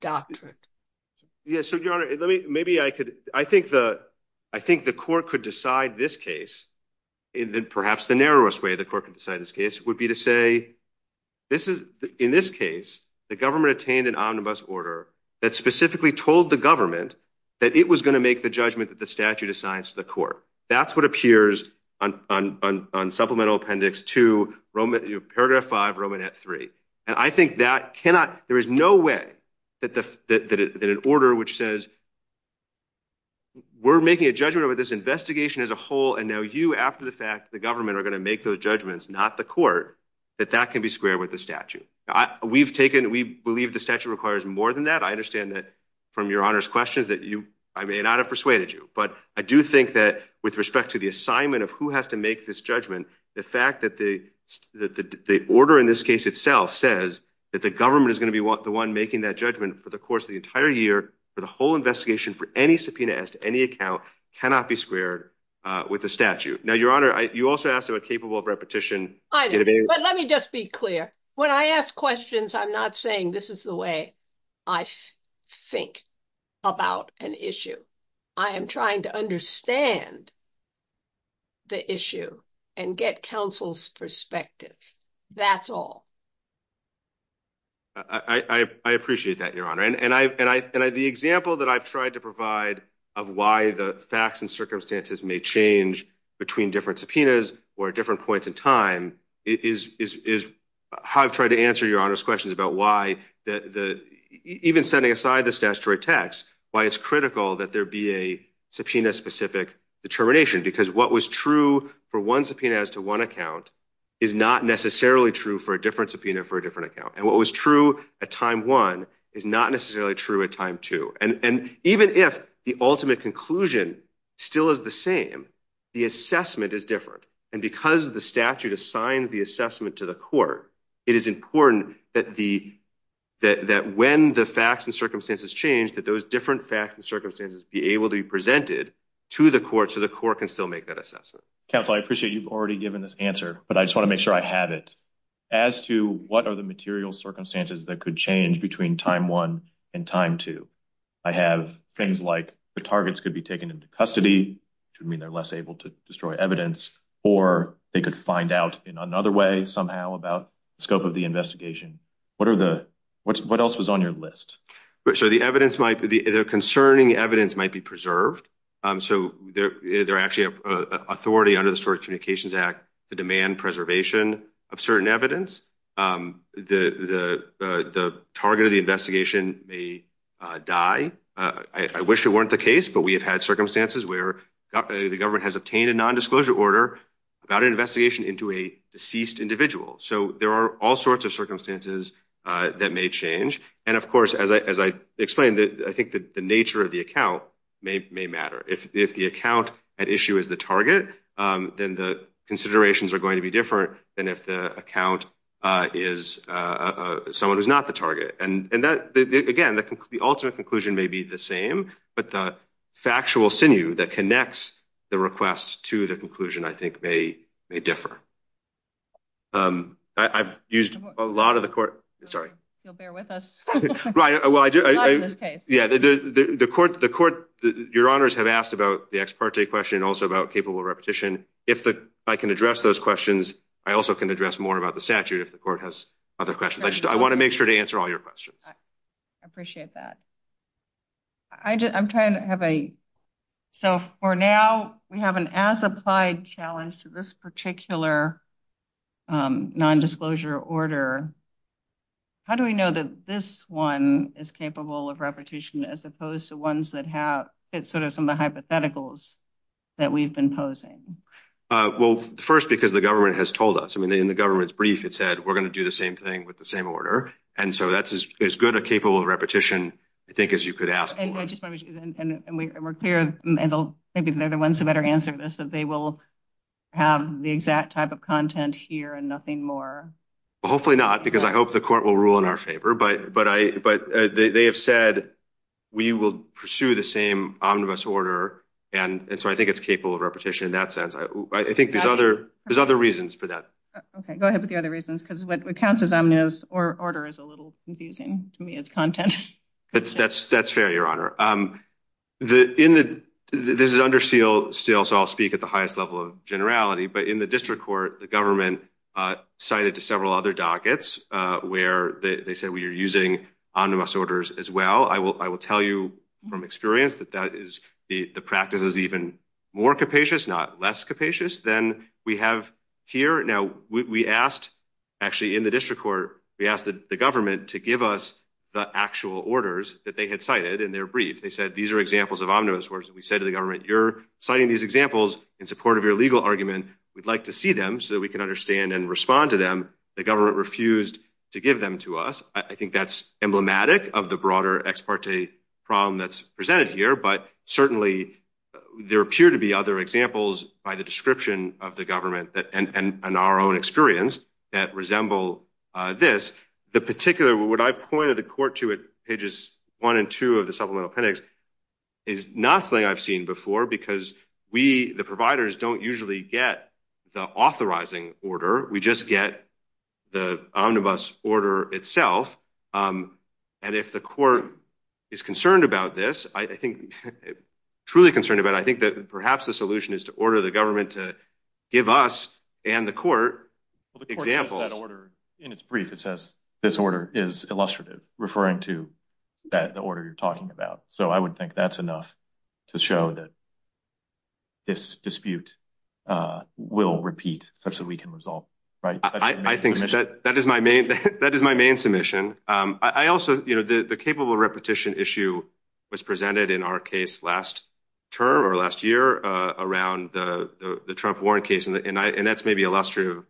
doctrine. Yes, Your Honor, maybe I could- I think the court could decide this case in perhaps the narrowest way the court could decide this case would be to say, in this case, the government obtained an omnibus order that specifically told the government that it was going to make the judgment that the statute assigns to the court. That's what appears on supplemental appendix two, Paragraph 5, Romanette 3. And I think that cannot- there is no way that an order which says, we're making a judgment over this investigation as a whole, and now you, after the fact, the government are going to make those judgments, not the court, that that can be squared with the statute. We've taken- we believe the statute requires more than that. I understand that, from Your Honor's questions, that you- I may not have persuaded you. But I do think that, with respect to the assignment of who has to make this judgment, the fact that the order in this case itself says that the government is going to be the one making that judgment for the course of the entire year, for the whole investigation, for any subpoena as to any account, cannot be squared with the statute. Now, Your Honor, you also asked about capable of repetition. I did, but let me just be clear. When I ask questions, I'm not saying this is the way I think about an issue. I am trying to understand the issue and get counsel's perspective. That's all. I appreciate that, Your Honor. And the example that I've tried to provide of why the facts and circumstances may change between different subpoenas or different points in time is how I've tried to answer Your Honor's questions about why the- even setting aside the statutory text, why it's critical that there be a subpoena-specific determination. Because what was true for one subpoena as to one account is not necessarily true for a different subpoena for a different account. And what was true at time one is not necessarily true at time two. And even if the ultimate conclusion still is the same, the assessment is different. And because the statute assigned the assessment to the court, it is important that when the facts and circumstances change, that those different facts and circumstances be able to be presented to the court so the court can still make that assessment. Counsel, I appreciate you've already given this answer, but I just want to make sure I have it. As to what are the material circumstances that could change between time one and time two, I have things like the targets could be taken into custody, which would mean they're less able to destroy evidence, or they could find out in another way somehow about the scope of the investigation. What are the- what else was on your list? So the evidence might- the concerning evidence might be preserved. So there actually is authority under the Storage Communications Act to demand preservation of certain evidence. The target of the investigation may die. I wish it weren't the case, but we have had circumstances where the government has obtained a nondisclosure order about an investigation into a deceased individual. So there are all sorts of circumstances that may change. And, of course, as I explained, I think the nature of the account may matter. If the account at issue is the target, then the considerations are going to be different than if the account is someone who's not the target. And, again, the ultimate conclusion may be the same, but the factual sinew that connects the request to the conclusion, I think, may differ. I've used a lot of the court- Sorry. You'll bear with us. Right. Well, I do- Yeah, the court- your honors have asked about the ex parte question and also about capable repetition. If I can address those questions, I also can address more about the statute if the court has other questions. I want to make sure to answer all your questions. I appreciate that. I'm trying to have a- So, for now, we have an as-applied challenge to this particular nondisclosure order. How do we know that this one is capable of repetition as opposed to ones that have- that sort of some of the hypotheticals that we've been posing? Well, first, because the government has told us. I mean, in the government's brief, it said, we're going to do the same thing with the same order. And so, that's as good a capable repetition, I think, as you could ask for. And we're clear. Maybe the other ones had better answer this, but they will have the exact type of content here and nothing more. Well, hopefully not, because I hope the court will rule in our favor. But they have said, we will pursue the same omnibus order. And so, I think it's capable of repetition in that sense. I think there's other reasons for that. Okay, go ahead with the other reasons, because what counts as omnibus order is a little confusing to me as content. That's fair, Your Honor. This is under seal, so I'll speak at the highest level of generality. But in the district court, the government cited to several other dockets where they said, we are using omnibus orders as well. I will tell you from experience that that is- the practice is even more capacious, not less capacious, than we have here. Now, we asked, actually in the district court, we asked the government to give us the actual orders that they had cited in their brief. They said, these are examples of omnibus orders. We said to the government, you're citing these examples in support of your legal argument. We'd like to see them so that we can understand and respond to them. The government refused to give them to us. I think that's emblematic of the broader ex parte problem that's presented here. But certainly, there appear to be other examples by the description of the government and our own experience that resemble this. The particular- what I pointed the court to at pages one and two of the supplemental appendix is nothing I've seen before, because we, the providers, don't usually get the authorizing order. We just get the omnibus order itself. And if the court is concerned about this, truly concerned about it, I think that perhaps the solution is to order the government to give us and the court examples. In its brief, it says, this order is illustrative, referring to the order you're talking about. So I would think that's enough to show that this dispute will repeat such that we can resolve. I think that is my main submission. I also- the capable repetition issue was presented in our case last term or last year around the Trump-Warren case. And that's maybe illustrative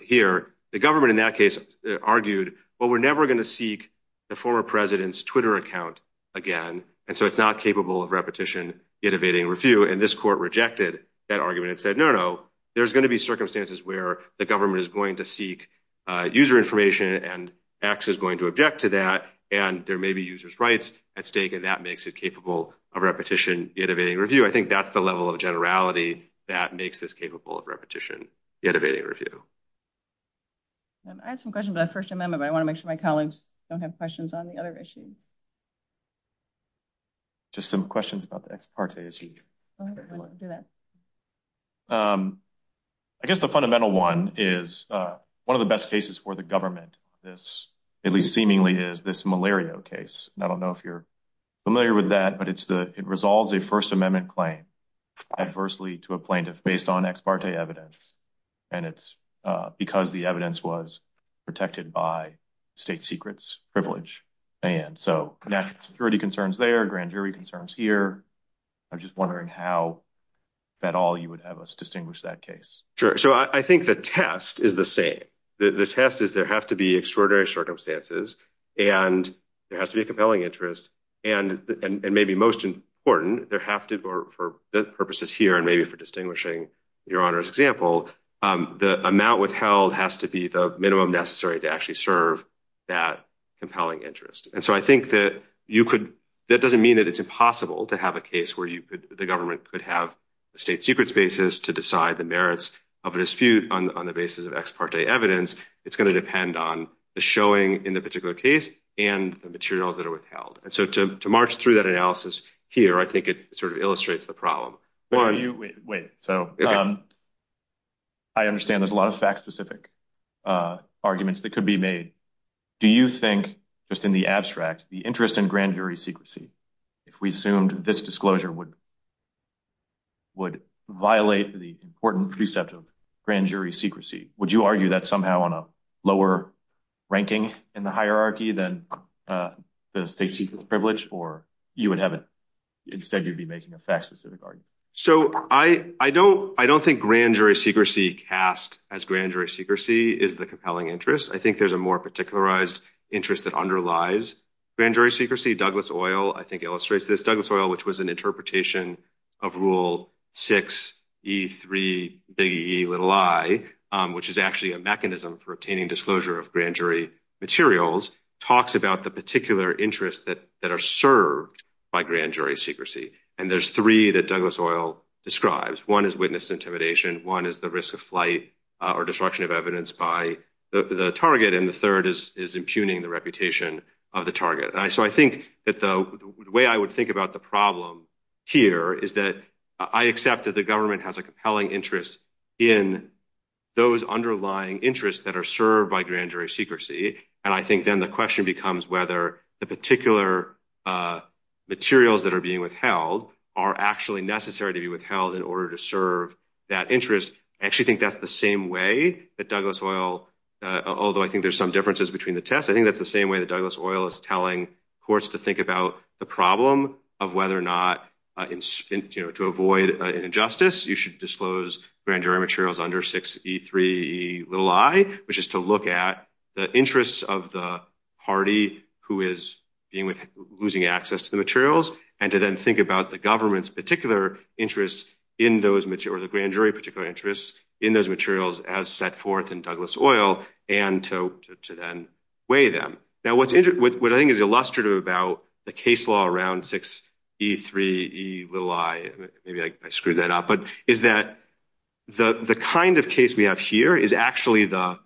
here. The government in that case argued, well, we're never going to seek the former president's Twitter account again. And so it's not capable of repetition, innovating review. And this court rejected that argument and said, no, no, there's going to be circumstances where the government is going to seek user information, and X is going to object to that. And there may be users' rights at stake, and that makes it capable of repetition, innovating review. I think that's the level of generality that makes this capable of repetition, innovating review. I have some questions about First Amendment, but I want to make sure my colleagues don't have questions on the other issues. Just some questions about the ex parte issue. I guess the fundamental one is one of the best cases for the government, at least seemingly, is this Malario case. And I don't know if you're familiar with that, but it resolves a First Amendment claim adversely to a plaintiff based on ex parte evidence. And it's because the evidence was protected by state secrets privilege. And so there are security concerns there, grand jury concerns here. I'm just wondering how at all you would have us distinguish that case. Sure. So I think the test is the same. The test is there have to be extraordinary circumstances, and there has to be a compelling interest. And maybe most important, there have to be, for purposes here and maybe for distinguishing your Honor's example, the amount withheld has to be the minimum necessary to actually serve that compelling interest. And so I think that you could, that doesn't mean that it's impossible to have a case where you could, the government could have a state secrets basis to decide the merits of a dispute on the basis of ex parte evidence. It's going to depend on the showing in the particular case and the materials that are withheld. And so to march through that analysis here, I think it sort of illustrates the problem. Wait, so I understand there's a lot of fact specific arguments that could be made. Do you think just in the abstract, the interest in grand jury secrecy, if we assumed this disclosure would violate the important precept of grand jury secrecy, would you argue that somehow on a lower ranking in the hierarchy than the state secrets privilege, or you would have it instead you'd be making a fact specific argument? So I don't think grand jury secrecy cast as grand jury secrecy is the compelling interest. I think there's a more particularized interest that underlies grand jury secrecy. Douglas oil, I think illustrates this Douglas oil, which was an interpretation of rule six E three little I, which is actually a mechanism for obtaining disclosure of grand jury materials, talks about the particular interests that that are served by grand jury secrecy. And there's three that Douglas oil describes. One is witness intimidation. One is the risk of flight or destruction of evidence by the target. And the third is impugning the reputation of the target. So I think that the way I would think about the problem here is that I accept that the government has a compelling interest in those underlying interests that are served by grand jury secrecy. And I think then the question becomes whether the particular materials that are being withheld are actually necessary to be withheld in order to serve that interest. I actually think that's the same way that Douglas oil, although I think there's some differences between the tests. I think that's the same way that Douglas oil is telling courts to think about the problem of whether or not to avoid injustice. You should disclose grand jury materials under six E three little I, which is to look at the interests of the party who is losing access to the materials and to then think about the government's particular interest in those or the grand jury particular interests in those materials as set forth in Douglas oil and to then weigh them. Now, what I think is illustrative about the case law around six E three E little I, maybe I screwed that up, but is that the kind of case we have here is actually the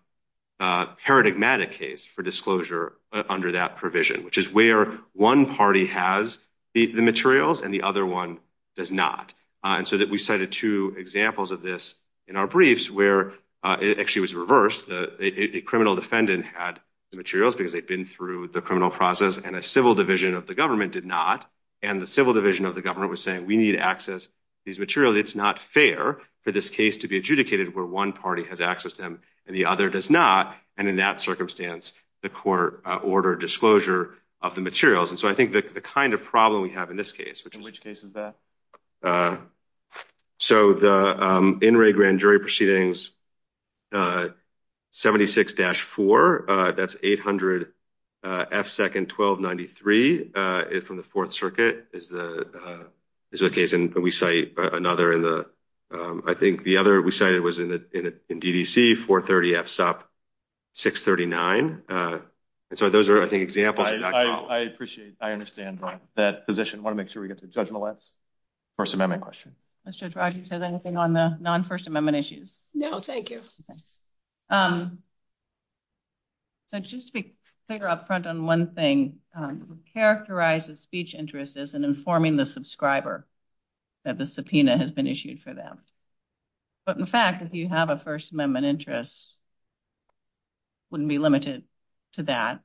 paradigmatic case for disclosure under that provision, which is where one party has the materials and the other one does not. And so that we cited two examples of this in our briefs where it actually was reversed. A criminal defendant had the materials because they've been through the criminal process and a civil division of the government did not. And the civil division of the government was saying, we need to access these materials. It's not fair for this case to be adjudicated where one party has access to them and the other does not. And in that circumstance, the court order disclosure of the materials. And so I think that the kind of problem we have in this case, which in which case is that. So the in-ring grand jury proceedings. Seventy six dash four. That's eight hundred second. Twelve. Ninety three. If from the Fourth Circuit is the is a case and we say another in the I think the other we say it was in the DDC for 30 F's up six thirty nine. So those are the examples. I appreciate. I understand that position. Want to make sure we get the judgment. Let's first amendment question. I should try to say anything on the non First Amendment issues. No, thank you. Let's just be clear up front on one thing characterizes speech interests and informing the subscriber that the subpoena has been issued for them. But, in fact, if you have a First Amendment interest. Wouldn't be limited to that.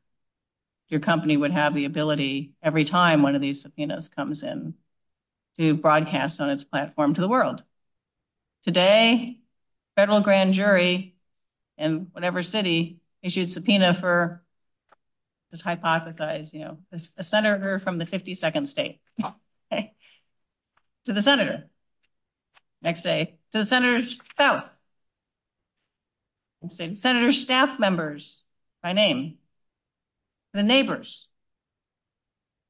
Your company would have the ability every time one of these subpoenas comes in broadcast on its platform to the world. Today, federal grand jury and whatever city issued subpoena for this hypothesize a senator from the fifty second state. To the senator. Next day, the senators. Senator staff members by name. The neighbors.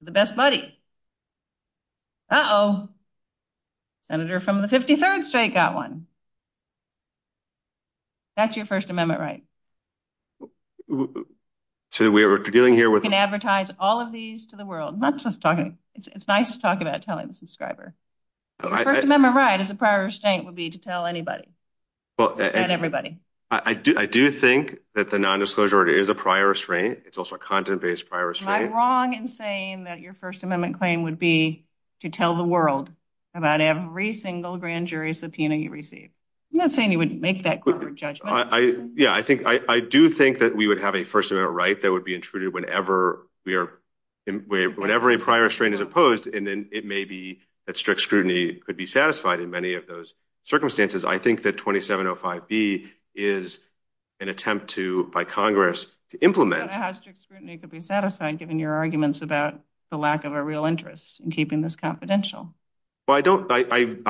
The best buddy. Senator from the fifty third state got one. That's your First Amendment, right? So, we are dealing here with advertise all of these to the world. Not just talking. It's nice to talk about telling subscriber. All right. Remember, right? Is a prior state would be to tell anybody. Well, everybody, I do. I do think that the nondisclosure is a prior restraint. It's also a content based virus. Am I wrong in saying that your First Amendment claim would be to tell the world about every single grand jury subpoena you receive. I'm not saying you wouldn't make that judgment. Yeah, I think I do think that we would have a First Amendment right that would be intruded whenever we are whenever a prior strain is opposed. And then it may be that strict scrutiny could be satisfied in many of those circumstances. I think that twenty seven or five B is an attempt to by Congress to implement giving your arguments about the lack of a real interest in keeping this confidential. Well, I don't. I am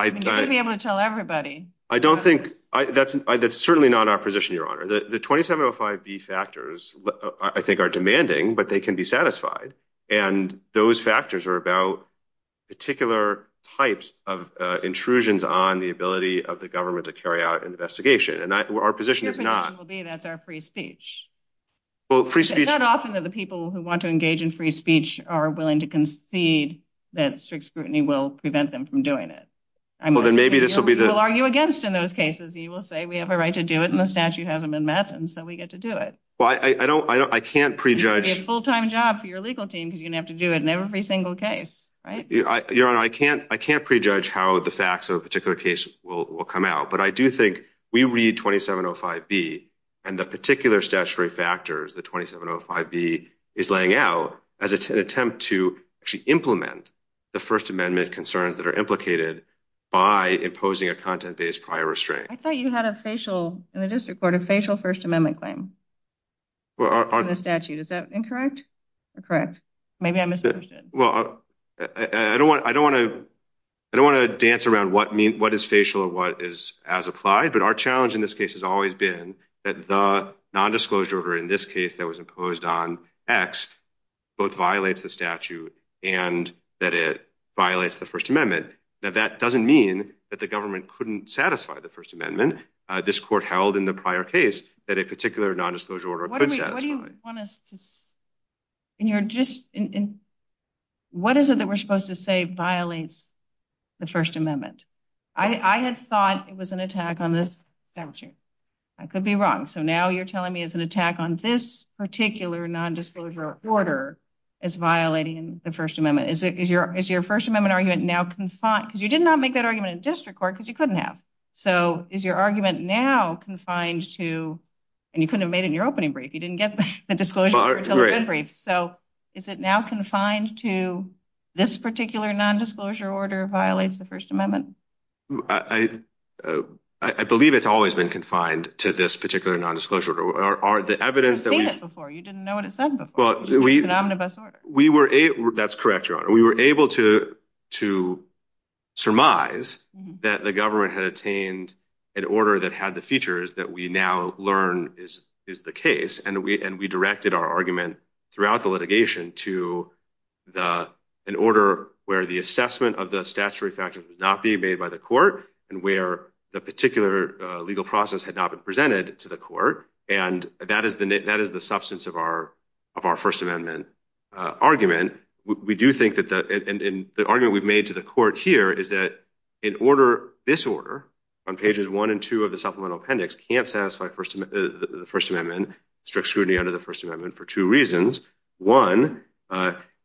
able to tell everybody. I don't think that's certainly not our position. Your honor, the twenty seven or five B factors, I think, are demanding, but they can be satisfied. And those factors are about particular types of intrusions on the ability of the government to carry out an investigation. And our position is not free speech. Well, it's not often that the people who want to engage in free speech are willing to concede that strict scrutiny will prevent them from doing it. I mean, maybe this will be the argue against in those cases. You will say we have a right to do it. And the statute hasn't been met. And so we get to do it. Well, I don't I can't prejudge a full time job for your legal team. You have to do it in every single case. I can't I can't prejudge how the facts of a particular case will come out. But I do think we read twenty seven or five B and the particular statutory factors. The twenty seven or five B is laying out as an attempt to actually implement the First Amendment concerns that are implicated by imposing a content based prior restraint. I thought you had a facial in the district court, a facial First Amendment claim. The statute, is that incorrect? Correct. Maybe I'm. Well, I don't want I don't want to I don't want to dance around what what is facial or what is as applied. But our challenge in this case has always been that the nondisclosure in this case that was imposed on X both violates the statute and that it violates the First Amendment. Now, that doesn't mean that the government couldn't satisfy the First Amendment. This court held in the prior case that a particular nondisclosure order. And you're just in. What is it that we're supposed to say violates the First Amendment? I had thought it was an attack on this statute. I could be wrong. So now you're telling me it's an attack on this particular nondisclosure order is violating the First Amendment. Is it is your is your First Amendment argument now confined because you did not make that argument in district court because you couldn't have. So is your argument now confined to and you couldn't have made it in your opening break. You didn't get the disclosure. So is it now confined to this particular nondisclosure order violates the First Amendment? I believe it's always been confined to this particular nondisclosure. You didn't know what it said before. That's correct. We were able to to surmise that the government had attained an order that had the features that we now learn is the case. And we and we directed our argument throughout the litigation to the an order where the assessment of the statutory factor would not be made by the court. And where the particular legal process had not been presented to the court. And that is the net. That is the substance of our of our First Amendment argument. We do think that the argument we've made to the court here is that in order this order on pages one and two of the supplemental appendix can't satisfy the First Amendment. Strict scrutiny under the First Amendment for two reasons. One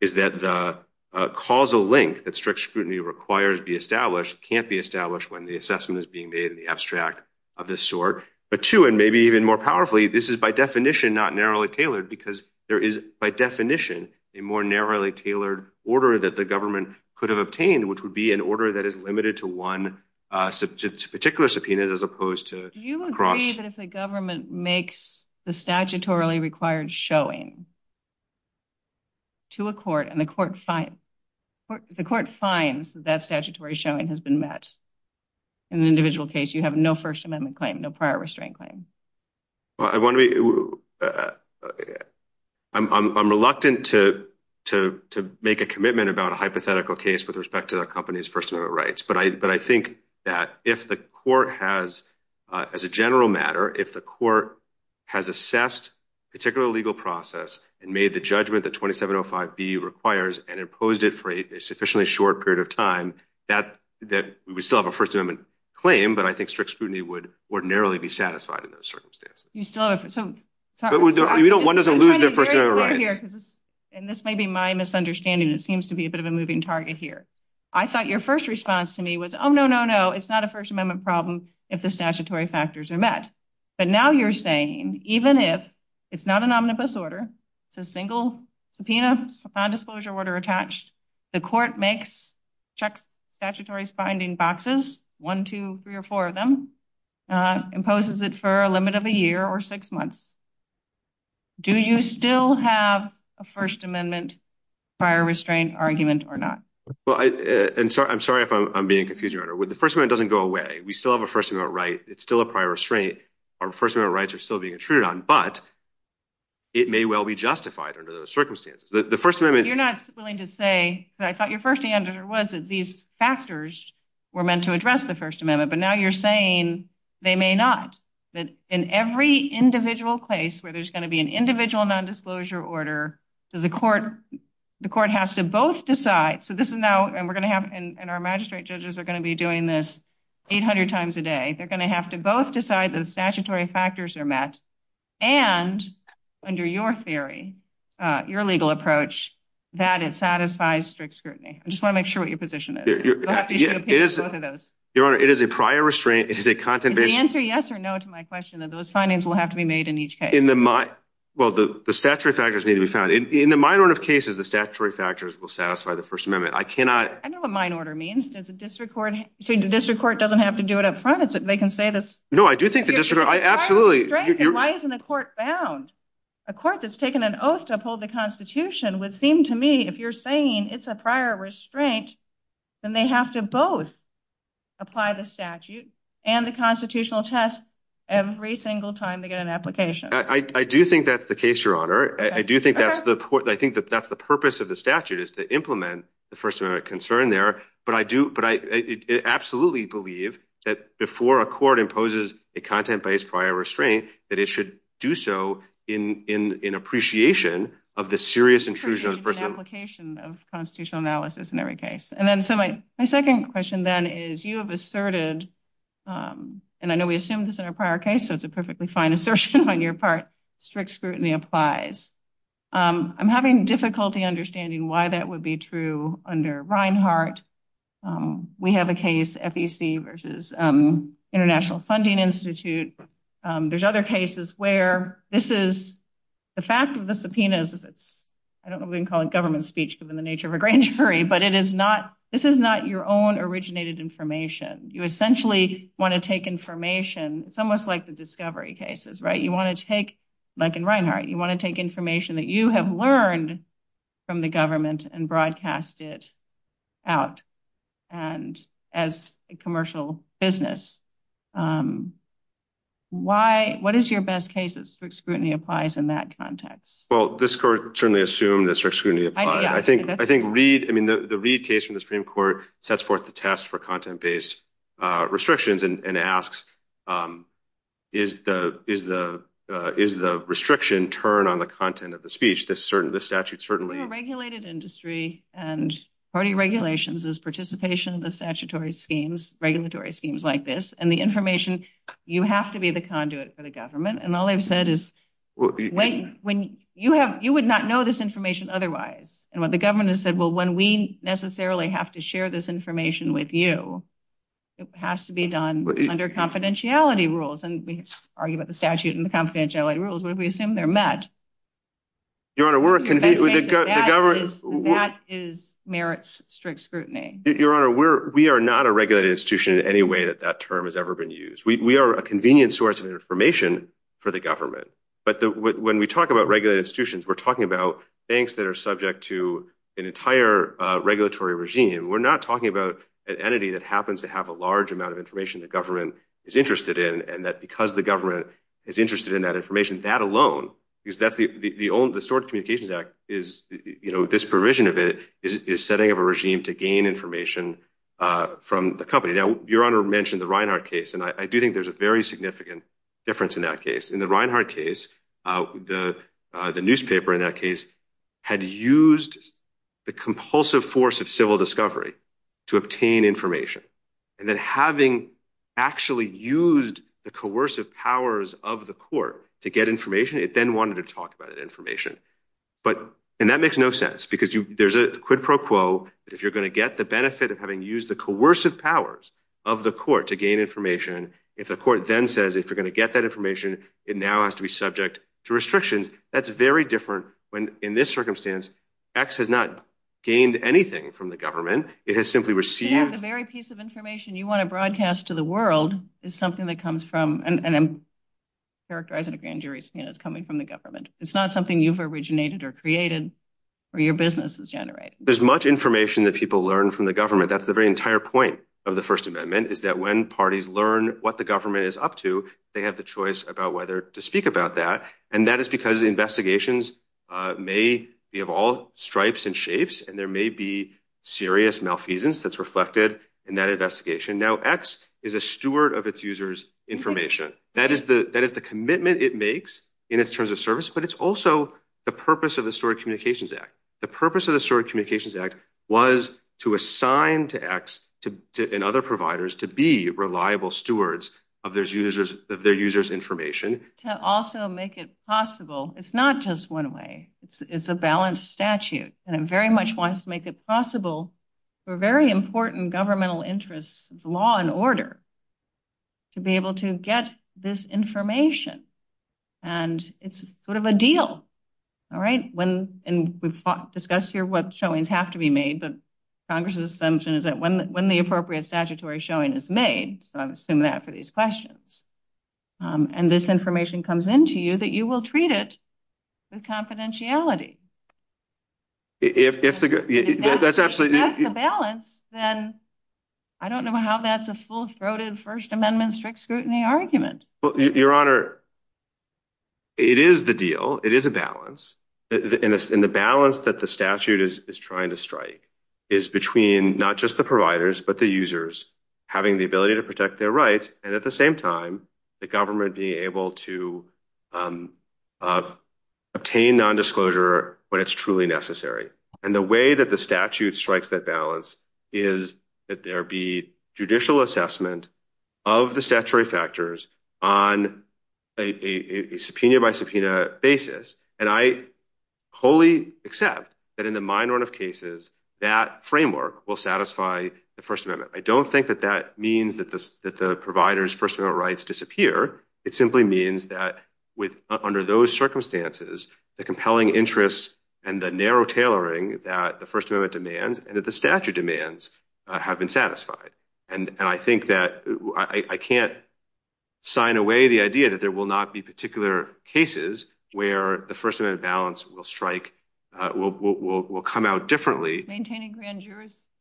is that the causal link that strict scrutiny requires be established can't be established when the assessment is being made in the abstract of this sort. But two and maybe even more powerfully, this is by definition not narrowly tailored because there is by definition a more narrowly tailored order that the government could have obtained, which would be an order that is limited to one particular subpoena as opposed to. Do you agree that if the government makes the statutorily required showing. To a court and the court, the court finds that statutory showing has been met. In the individual case, you have no First Amendment claim, no prior restraint claim. I'm reluctant to to to make a commitment about a hypothetical case with respect to the company's personal rights. But I but I think that if the court has as a general matter, if the court has assessed particular legal process and made the judgment that twenty seven oh five B requires and imposed it for a sufficiently short period of time that that we still have a First Amendment claim. But I think strict scrutiny would ordinarily be satisfied in those circumstances. So you don't want to lose the right here. And this may be my misunderstanding. It seems to be a bit of a moving target here. I thought your first response to me was, oh, no, no, no. It's not a First Amendment problem if the statutory factors are met. But now you're saying even if it's not an omnibus order, a single subpoena on disclosure order attached, the court makes check statutory binding boxes, one, two, three or four of them, imposes it for a limit of a year or six months. Do you still have a First Amendment prior restraint argument or not? Well, I'm sorry. I'm sorry if I'm being confused. The first one doesn't go away. We still have a First Amendment right. It's still a prior restraint. Our First Amendment rights are still being treated on, but. It may well be justified under the circumstances that the First Amendment, you're not willing to say that I thought your first answer was that these factors were meant to address the First Amendment, but now you're saying they may not. In every individual case where there's going to be an individual nondisclosure order to the court, the court has to both decide. So this is now and we're going to have and our magistrate judges are going to be doing this 800 times a day. They're going to have to both decide the statutory factors are met and under your theory, your legal approach that it satisfies strict scrutiny. I just want to make sure what your position is. It is a prior restraint. It is a content answer. Yes or no to my question of those findings will have to be made in each case in the mind. Well, the statutory factors need to be found in the minor of cases. The statutory factors will satisfy the First Amendment. I cannot. I know what mine order means. It's a district court. The district court doesn't have to do it in front of it. They can say this. No, I do think the district. I absolutely. Why isn't the court found a court that's taken an oath to uphold the Constitution would seem to me if you're saying it's a prior restraint and they have to both apply the statute and the constitutional test every single time to get an application. I do think that's the case, Your Honor. I do think that's the point. I think that that's the purpose of the statute is to implement the First Amendment concern there. But I do. But I absolutely believe that before a court imposes a content based prior restraint, that it should do so in in in appreciation of the serious infusion of application of constitutional analysis in every case. And then my second question then is you have asserted, and I know we assumed this in a prior case, so it's a perfectly fine assertion on your part. Strict scrutiny applies. I'm having difficulty understanding why that would be true under Reinhart. We have a case, FEC versus International Funding Institute. There's other cases where this is the fact of the subpoenas. I don't know if we can call it government speech given the nature of a grand jury, but it is not this is not your own originated information. You essentially want to take information. It's almost like the discovery cases, right? You want to take like in Reinhart. You want to take information that you have learned from the government and broadcast it out and as a commercial business. What is your best case that strict scrutiny applies in that context? Well, this court certainly assumed that strict scrutiny applies. I think the Reid case from the Supreme Court sets forth the test for content based restrictions and asks, is the restriction turn on the content of the speech? The regulated industry and party regulations is participation in the statutory schemes, regulatory schemes like this, and the information, you have to be the conduit for the government. All I've said is you would not know this information otherwise. What the government has said, well, when we necessarily have to share this information with you, it has to be done under confidentiality rules. We argue about the statute and confidentiality rules, but we assume they're met. That is merits strict scrutiny. Your Honor, we are not a regulated institution in any way that that term has ever been used. We are a convenient source of information for the government. But when we talk about regulated institutions, we're talking about banks that are subject to an entire regulatory regime. We're not talking about an entity that happens to have a large amount of information the government is interested in, and that because the government is interested in that information, that alone, because the SOAR Communications Act, this provision of it, is setting up a regime to gain information from the company. Now, Your Honor mentioned the Reinhart case, and I do think there's a very significant difference in that case. In the Reinhart case, the newspaper in that case had used the compulsive force of civil discovery to obtain information, and then having actually used the coercive powers of the court to get information, it then wanted to talk about that information. And that makes no sense, because there's a quid pro quo that if you're going to get the benefit of having used the coercive powers of the court to gain information, if the court then says, if you're going to get that information, it now has to be subject to restrictions. That's very different when, in this circumstance, X has not gained anything from the government. It has simply received... The very piece of information you want to broadcast to the world is something that comes from, and I'm characterizing it as coming from the government. It's not something you've originated or created or your business has generated. There's much information that people learn from the government. That's the very entire point of the First Amendment, is that when parties learn what the government is up to, they have the choice about whether to speak about that. And that is because investigations may be of all stripes and shapes, and there may be serious malfeasance that's reflected in that investigation. Now, X is a steward of its users' information. That is the commitment it makes in its terms of service, but it's also the purpose of the Steward Communications Act. The purpose of the Steward Communications Act was to assign to X and other providers to be reliable stewards of their users' information. To also make it possible, it's not just one way. It's a balanced statute, and it very much wants to make it possible for very important governmental interests, law and order, to be able to get this information. And it's sort of a deal, all right? And we've discussed here what showings have to be made, but Congress's assumption is that when the appropriate statutory showing is made... And this information comes in to you, that you will treat it with confidentiality. If that's the balance, then I don't know how that's a full-throated First Amendment strict scrutiny argument. Well, Your Honor, it is the deal. It is a balance. And the balance that the statute is trying to strike is between not just the providers, but the users having the ability to protect their rights, and at the same time, the government being able to obtain nondisclosure when it's truly necessary. And the way that the statute strikes that balance is that there be judicial assessment of the statutory factors on a subpoena-by-subpoena basis. And I wholly accept that in the minority of cases, that framework will satisfy the First Amendment. I don't think that that means that the providers' First Amendment rights disappear. It simply means that under those circumstances, the compelling interests and the narrow tailoring that the First Amendment demands and that the statute demands have been satisfied. And I think that I can't sign away the idea that there will not be particular cases where the First Amendment balance will strike, will come out differently. Maintaining grand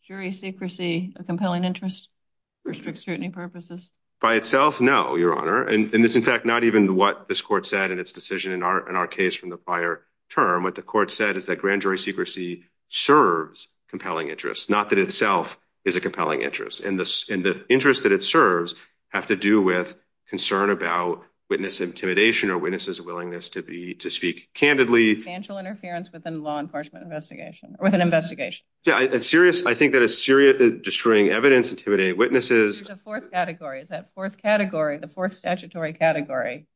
jury secrecy, a compelling interest for strict scrutiny purposes? By itself, no, Your Honor. And it's, in fact, not even what this court said in its decision in our case from the prior term. What the court said is that grand jury secrecy serves compelling interests, not that itself is a compelling interest. And the interests that it serves have to do with concern about witness intimidation or witnesses' willingness to speak candidly. Financial interference within law enforcement investigation, or within investigation. Yeah, I think that it's seriously destroying evidence, intimidating witnesses. It's a fourth category. It's that fourth category, the fourth statutory category.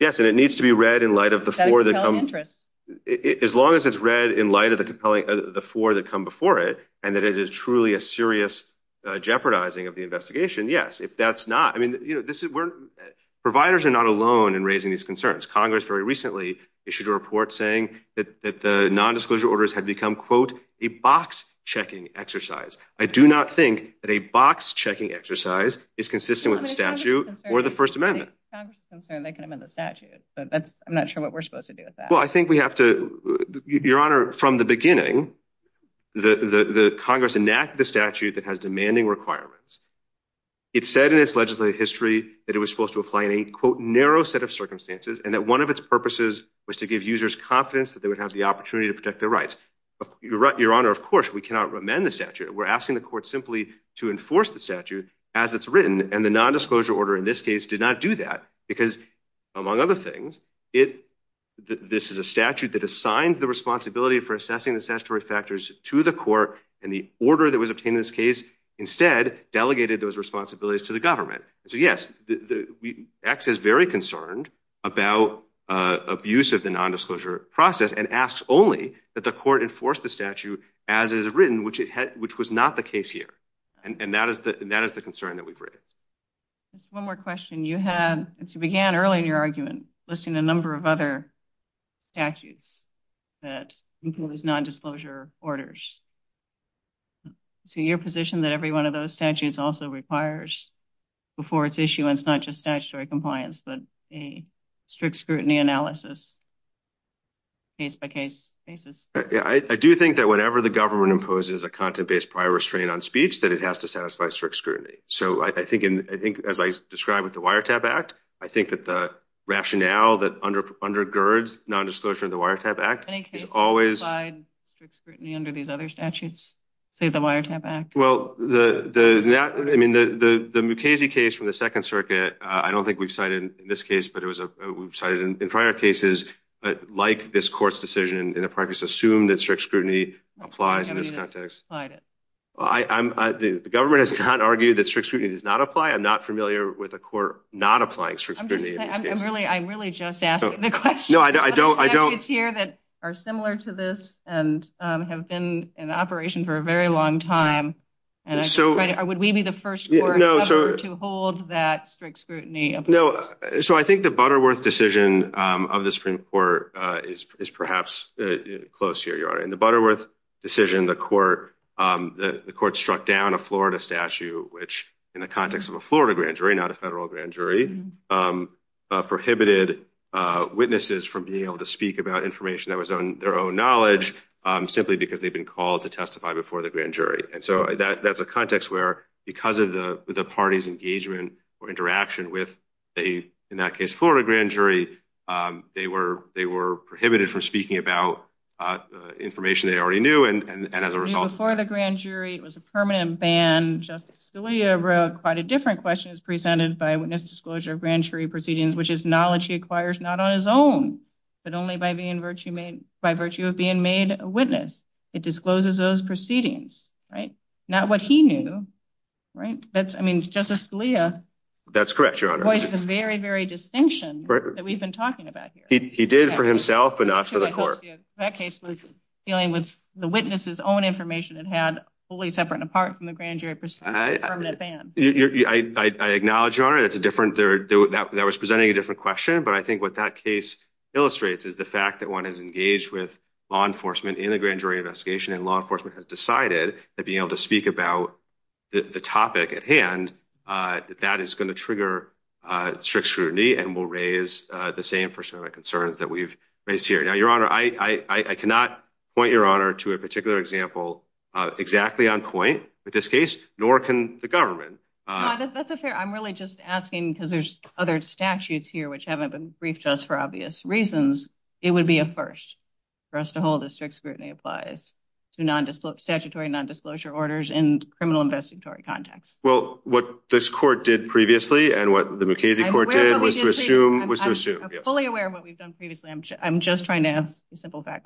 Yes, and it needs to be read in light of the four that come— That compelling interest. As long as it's read in light of the four that come before it and that it is truly a serious jeopardizing of the investigation, yes, if that's not— I mean, you know, providers are not alone in raising these concerns. Congress very recently issued a report saying that the nondisclosure orders have become, quote, a box-checking exercise. I do not think that a box-checking exercise is consistent with the statute or the First Amendment. Congress is concerned they can amend the statute, but I'm not sure what we're supposed to do with that. Well, I think we have to—Your Honor, from the beginning, the Congress enacted the statute that has demanding requirements. It said in its legislative history that it was supposed to apply in a, quote, narrow set of circumstances, and that one of its purposes was to give users confidence that they would have the opportunity to protect their rights. Your Honor, of course, we cannot amend the statute. We're asking the court simply to enforce the statute as it's written, and the nondisclosure order in this case did not do that because, among other things, this is a statute that assigned the responsibility for assessing the statutory factors to the court, and the order that was obtained in this case instead delegated those responsibilities to the government. So, yes, the Act is very concerned about abuse of the nondisclosure process and asks only that the court enforce the statute as it is written, which was not the case here, and that is the concern that we've raised. One more question. You began earlier in your argument listing a number of other statutes that include nondisclosure orders. Is it your position that every one of those statutes also requires, before its issuance, not just statutory compliance, but a strict scrutiny analysis case-by-case basis? I do think that whenever the government imposes a content-based prior restraint on speech, that it has to satisfy strict scrutiny. So I think, as I described with the Wiretap Act, I think that the rationale that undergirds nondisclosure in the Wiretap Act is always… Well, I mean, the Mukasey case from the Second Circuit, I don't think we've cited in this case, but we've cited in prior cases like this court's decision in the practice assumed that strict scrutiny applies in this context. The government has not argued that strict scrutiny does not apply. I'm not familiar with a court not applying strict scrutiny. I'm really just asking the question. There are statutes here that are similar to this and have been in operation for a very long time. Would we be the first court to hold that strict scrutiny? No. So I think the Butterworth decision of the Supreme Court is perhaps close to where you are. In the Butterworth decision, the court struck down a Florida statute which, in the context of a Florida grand jury, not a federal grand jury, prohibited witnesses from being able to speak about information that was on their own knowledge simply because they've been called to testify before the grand jury. And so that's a context where, because of the party's engagement or interaction with a, in that case, Florida grand jury, they were prohibited from speaking about information they already knew, and as a result… Before the grand jury, it was a permanent ban. Justice Scalia wrote quite a different question. It was presented by a witness disclosure of grand jury proceedings, which is knowledge he acquires not on his own, but only by virtue of being made a witness. It discloses those proceedings, right? Not what he knew, right? I mean, Justice Scalia… That's correct, Your Honor. …voiced a very, very distinction that we've been talking about here. He did for himself, but not for the court. Justice Scalia, that case was dealing with the witness's own information and had fully separate and apart from the grand jury proceedings, a permanent ban. I acknowledge, Your Honor, that was presenting a different question, but I think what that case illustrates is the fact that one has engaged with law enforcement in a grand jury investigation and law enforcement has decided that being able to speak about the topic at hand, that is going to trigger strict scrutiny and will raise the same sort of concerns that we've raised here. Now, Your Honor, I cannot point Your Honor to a particular example exactly on point in this case, nor can the government. That's fair. I'm really just asking because there's other statutes here which haven't been briefed to us for obvious reasons. It would be a first for us to hold that strict scrutiny applies to statutory non-disclosure orders in criminal investigatory context. Well, what this court did previously and what the Mukasey court did was to assume… I'm fully aware of what we've done previously. I'm just trying to…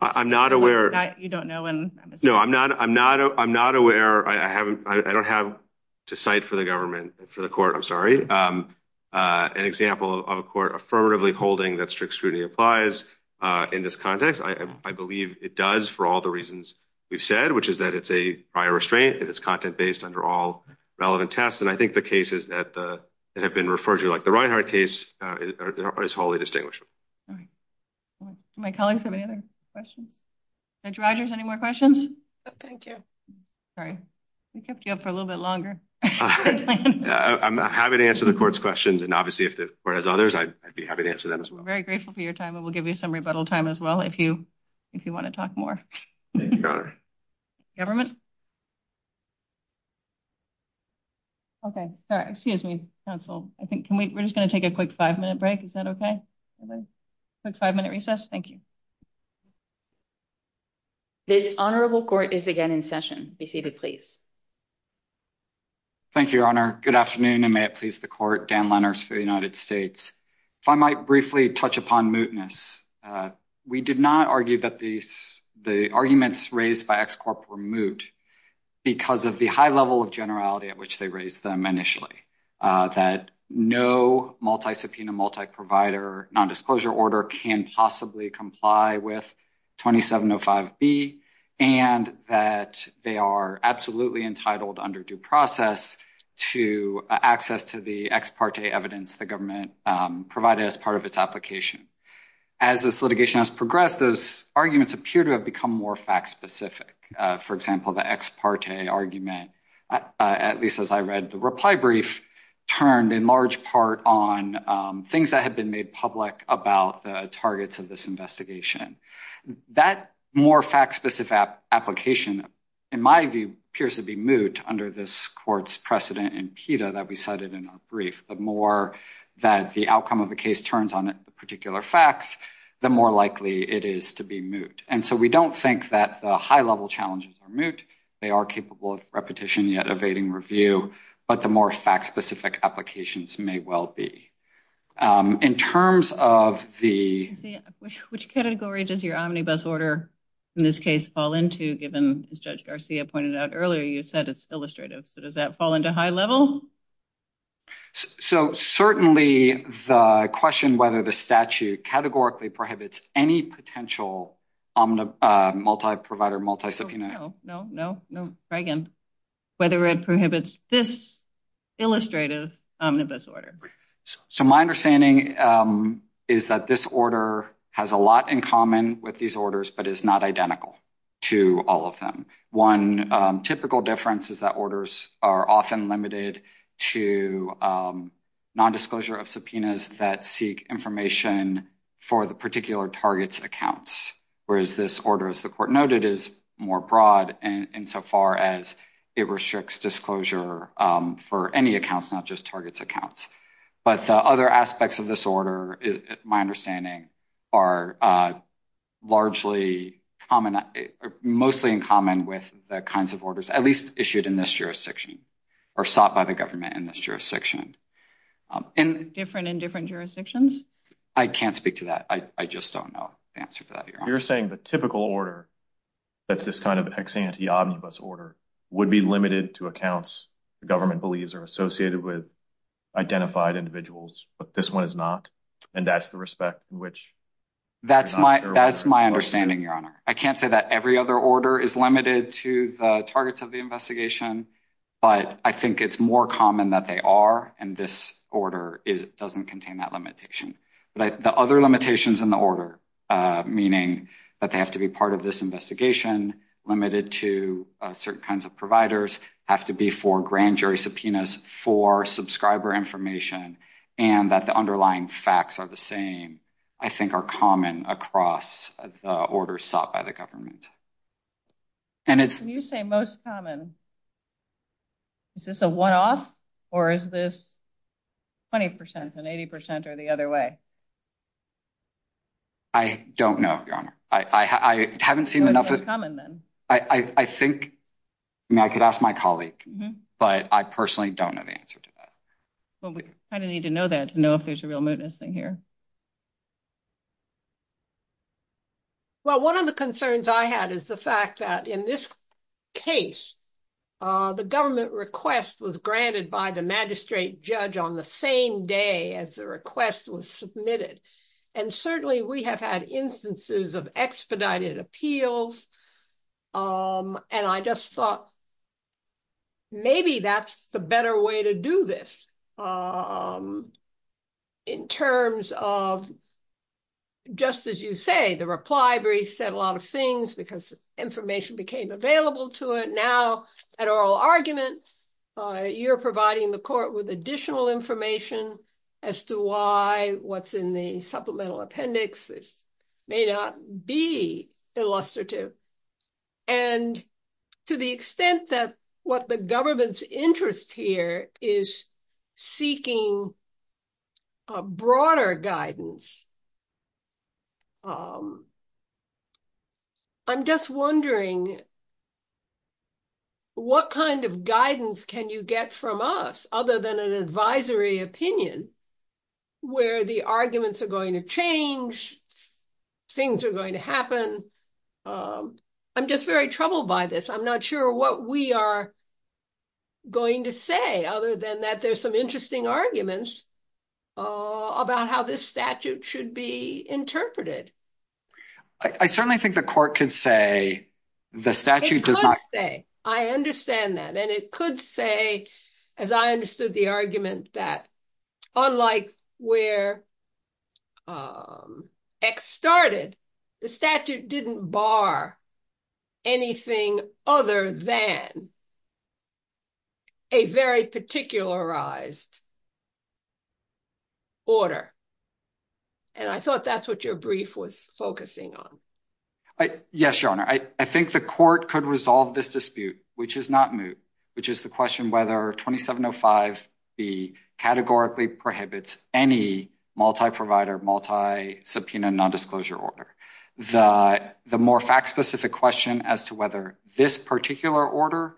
I'm not aware. You don't know when… No, I'm not aware. I don't have to cite for the government, for the court, I'm sorry, an example of a court affirmatively holding that strict scrutiny applies in this context. I believe it does for all the reasons we've said, which is that it's a prior restraint. It is content based under all relevant tests. And I think the cases that have been referred to, like the Reinhart case, is wholly distinguishable. Do my colleagues have any other questions? Judge Rogers, any more questions? Thank you. Sorry, we kept you up for a little bit longer. I'm happy to answer the court's questions, and obviously if the court has others, I'd be happy to answer them as well. We're very grateful for your time, and we'll give you some rebuttal time as well if you want to talk more. Your Honor. Government? Okay. Sorry, excuse me, counsel. We're just going to take a quick five-minute break. Is that okay? Quick five-minute recess. Thank you. The Honorable Court is again in session. Be seated, please. Thank you, Your Honor. Good afternoon, and may it please the Court, Dan Lenners for the United States. If I might briefly touch upon mootness. We did not argue that the arguments raised by Ex Corp were moot because of the high level of generality at which they raised them initially, that no multi-subpoena, multi-provider nondisclosure order can possibly comply with 2705B, and that they are absolutely entitled under due process to access to the ex parte evidence the government provided as part of its application. As this litigation has progressed, those arguments appear to have become more fact-specific. For example, the ex parte argument, at least as I read the reply brief, turned in large part on things that had been made public about the targets of this investigation. That more fact-specific application, in my view, appears to be moot under this Court's precedent in PETA that we cited in our brief. The more that the outcome of the case turns on particular facts, the more likely it is to be moot. And so we don't think that the high-level challenges are moot. They are capable of repetition, yet evading review. But the more fact-specific applications may well be. In terms of the... Which category does your omnibus order in this case fall into, given, as Judge Garcia pointed out earlier, you said it's illustrative. Does that fall into high level? So certainly the question whether the statute categorically prohibits any potential multi-provider, multi-subpoena... No, no, no, no. Try again. Whether it prohibits this illustrative omnibus order. So my understanding is that this order has a lot in common with these orders, but is not identical to all of them. One typical difference is that orders are often limited to nondisclosure of subpoenas that seek information for the particular target's accounts. Whereas this order, as the Court noted, is more broad insofar as it restricts disclosure for any accounts, not just target's accounts. But the other aspects of this order, my understanding, are largely common... Mostly in common with the kinds of orders, at least issued in this jurisdiction, or sought by the government in this jurisdiction. Different in different jurisdictions? I can't speak to that. I just don't know the answer to that. You're saying the typical order, that's this kind of ex ante omnibus order, would be limited to accounts the government believes are associated with identified individuals. But this one is not, and that's the respect in which... That's my understanding, Your Honor. I can't say that every other order is limited to the targets of the investigation. But I think it's more common that they are, and this order doesn't contain that limitation. The other limitations in the order, meaning that they have to be part of this investigation, limited to certain kinds of providers, have to be for grand jury subpoenas, for subscriber information, and that the underlying facts are the same, I think are common across the orders sought by the government. When you say most common, is this a one-off, or is this 20% and 80% or the other way? I don't know, Your Honor. I haven't seen enough... What's most common, then? I think... I mean, I could ask my colleague, but I personally don't have the answer to that. Well, we kind of need to know that to know if there's a real mootness in here. Well, one of the concerns I had is the fact that in this case, the government request was granted by the magistrate judge on the same day as the request was submitted. And certainly, we have had instances of expedited appeals, and I just thought, maybe that's the better way to do this. In terms of, just as you say, the reply brief said a lot of things because information became available to it. Now, an oral argument, you're providing the court with additional information as to why what's in the supplemental appendix may not be illustrative. And to the extent that what the government's interest here is seeking a broader guidance, I'm just wondering what kind of guidance can you get from us other than an advisory opinion where the arguments are going to change, things are going to happen. I'm just very troubled by this. I'm not sure what we are going to say, other than that there's some interesting arguments about how this statute should be interpreted. I certainly think the court could say the statute... I understand that. And it could say, as I understood the argument, that unlike where X started, the statute didn't bar anything other than a very particularized order. And I thought that's what your brief was focusing on. Yes, Your Honor. I think the court could resolve this dispute, which is not moot, which is the question whether 2705B categorically prohibits any multi-provider, multi-subpoena, nondisclosure order. The more fact-specific question as to whether this particular order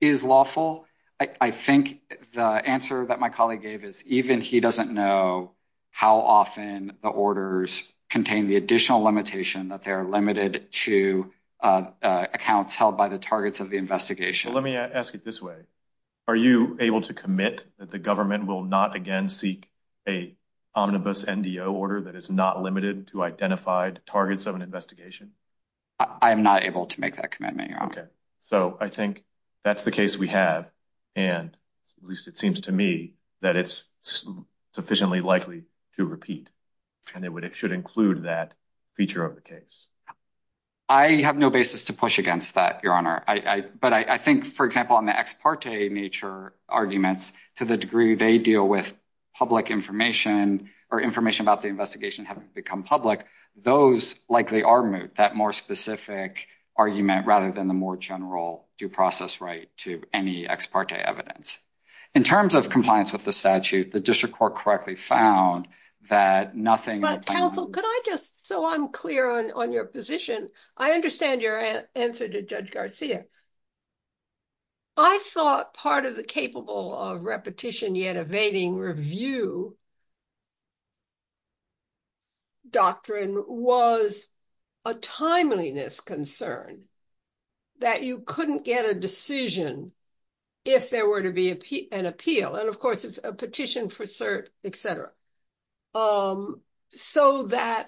is lawful, I think the answer that my colleague gave is even he doesn't know how often the orders contain the additional limitation that they're limited to accounts held by the targets of the investigation. Let me ask it this way. Are you able to commit that the government will not again seek a omnibus NDO order that is not limited to identified targets of an investigation? I'm not able to make that commitment, Your Honor. Okay. So I think that's the case we have. And at least it seems to me that it's sufficiently likely to repeat. And it should include that feature of the case. I have no basis to push against that, Your Honor. But I think, for example, on the ex parte nature arguments to the degree they deal with public information or information about the investigation having become public, those likely are moot, that more specific argument rather than the more general due process right to any ex parte evidence. In terms of compliance with the statute, the district court correctly found that nothing... Counsel, could I just, so I'm clear on your position, I understand your answer to Judge Garcia. I thought part of the capable of repetition yet evading review doctrine was a timeliness concern that you couldn't get a decision if there were to be an appeal. And, of course, it's a petition for cert, et cetera. So that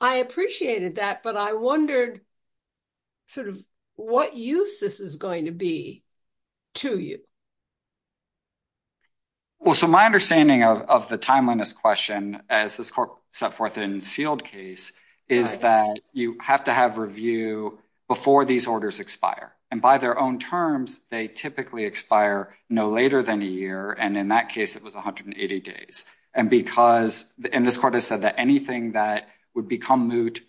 I appreciated that, but I wondered sort of what use this is going to be to you. Well, so my understanding of the timeliness question, as this court set forth in the sealed case, is that you have to have review before these orders expire. And by their own terms, they typically expire no later than a year. And in that case, it was 180 days. And because, and this court has said that anything that would become moot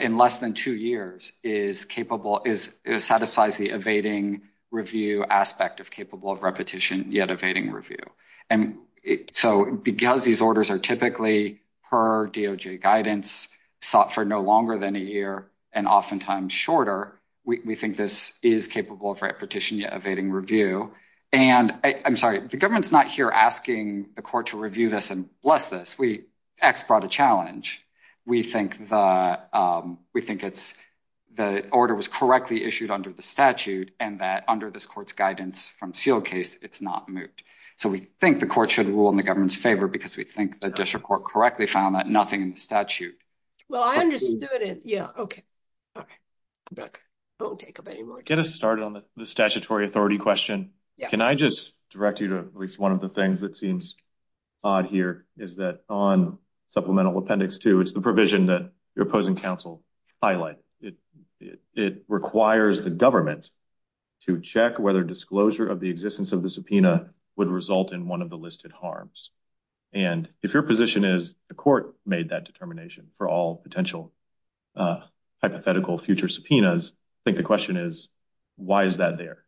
in less than two years is capable, it satisfies the evading review aspect of capable of repetition yet evading review. And so because these orders are typically per DOJ guidance, sought for no longer than a year, and oftentimes shorter, we think this is capable of repetition yet evading review. And I'm sorry, the government's not here asking the court to review this and bless this. We actually brought a challenge. We think the order was correctly issued under the statute and that under this court's guidance from sealed case, it's not moot. So we think the court should rule in the government's favor because we think the district court correctly found that nothing in the statute. Well, I understood it. Yeah. Okay. Okay. I won't take up any more time. Get us started on the statutory authority question. Can I just direct you to at least one of the things that seems odd here is that on supplemental appendix two, it's the provision that your opposing counsel highlight. It requires the government to check whether disclosure of the existence of the subpoena would result in one of the listed harms. And if your position is the court made that determination for all potential hypothetical future subpoenas, I think the question is, why is that there?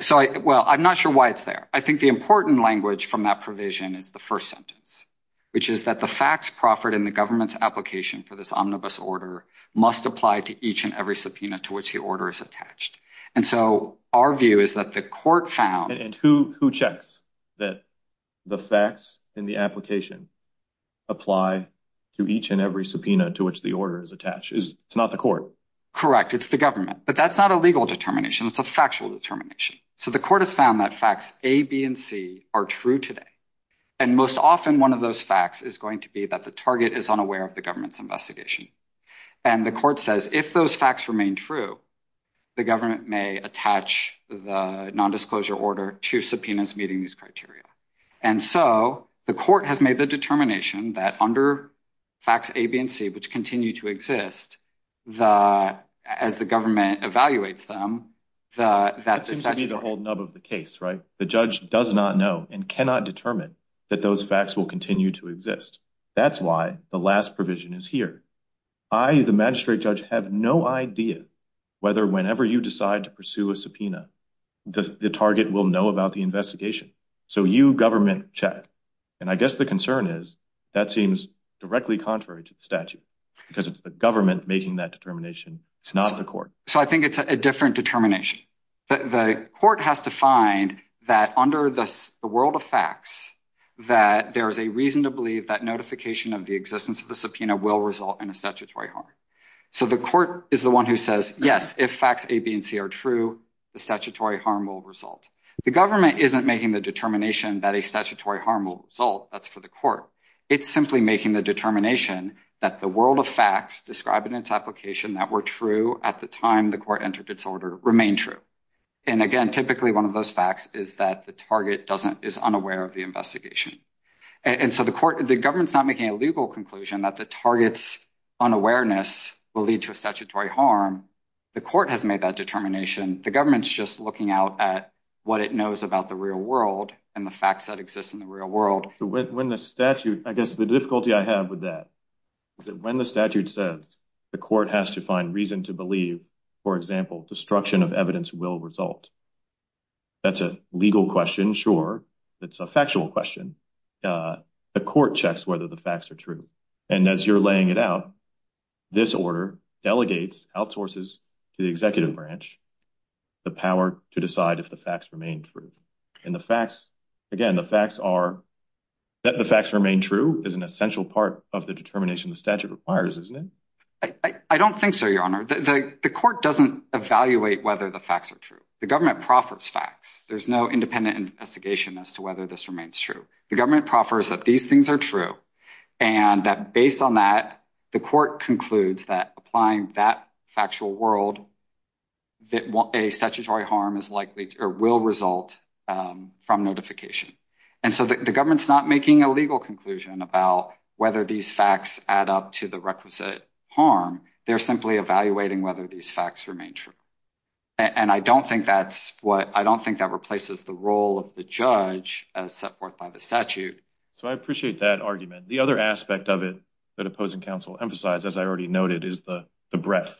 So, well, I'm not sure why it's there. I think the important language from that provision is the first sentence, which is that the facts proffered in the government's application for this omnibus order must apply to each and every subpoena to which the order is attached. And so our view is that the court found. And who checks that the facts in the application apply to each and every subpoena to which the order is attached is not the court. Correct. It's the government. But that's not a legal determination. It's a factual determination. So the court has found that facts A, B and C are true today. And most often one of those facts is going to be that the target is unaware of the government's investigation. And the court says if those facts remain true, the government may attach the nondisclosure order to subpoenas meeting these criteria. And so the court has made the determination that under facts A, B and C, which continue to exist as the government evaluates them. That seems to be the whole nub of the case, right? The judge does not know and cannot determine that those facts will continue to exist. That's why the last provision is here. I, the magistrate judge, have no idea whether whenever you decide to pursue a subpoena, the target will know about the investigation. So you, government, check. And I guess the concern is that seems directly contrary to the statute. Because it's the government making that determination. It's not the court. So I think it's a different determination. The court has to find that under the world of facts, that there is a reason to believe that notification of the existence of the subpoena will result in a statutory harm. So the court is the one who says, yes, if facts A, B and C are true, the statutory harm will result. The government isn't making the determination that a statutory harm will result. That's for the court. It's simply making the determination that the world of facts described in its application that were true at the time the court entered its order remain true. And again, typically one of those facts is that the target doesn't, is unaware of the investigation. And so the court, the government's not making a legal conclusion that the target's unawareness will lead to a statutory harm. The court has made that determination. The government's just looking out at what it knows about the real world and the facts that exist in the real world. When the statute, I guess the difficulty I have with that, when the statute says the court has to find reason to believe, for example, destruction of evidence will result. That's a legal question. Sure. It's a factual question. The court checks whether the facts are true. And as you're laying it out, this order delegates, outsources to the executive branch, the power to decide if the facts remain true. And the facts, again, the facts are that the facts remain true is an essential part of the determination of statute requires, isn't it? I don't think so, Your Honor. The court doesn't evaluate whether the facts are true. The government profits facts. There's no independent investigation as to whether this remains true. The government proffers that these things are true and that based on that, the court concludes that applying that factual world that a statutory harm is likely or will result from notification. And so the government's not making a legal conclusion about whether these facts add up to the requisite harm. They're simply evaluating whether these facts remain true. And I don't think that's what I don't think that replaces the role of the judge as set forth by the statute. So I appreciate that argument. The other aspect of it that opposing counsel emphasized, as I already noted, is the breadth.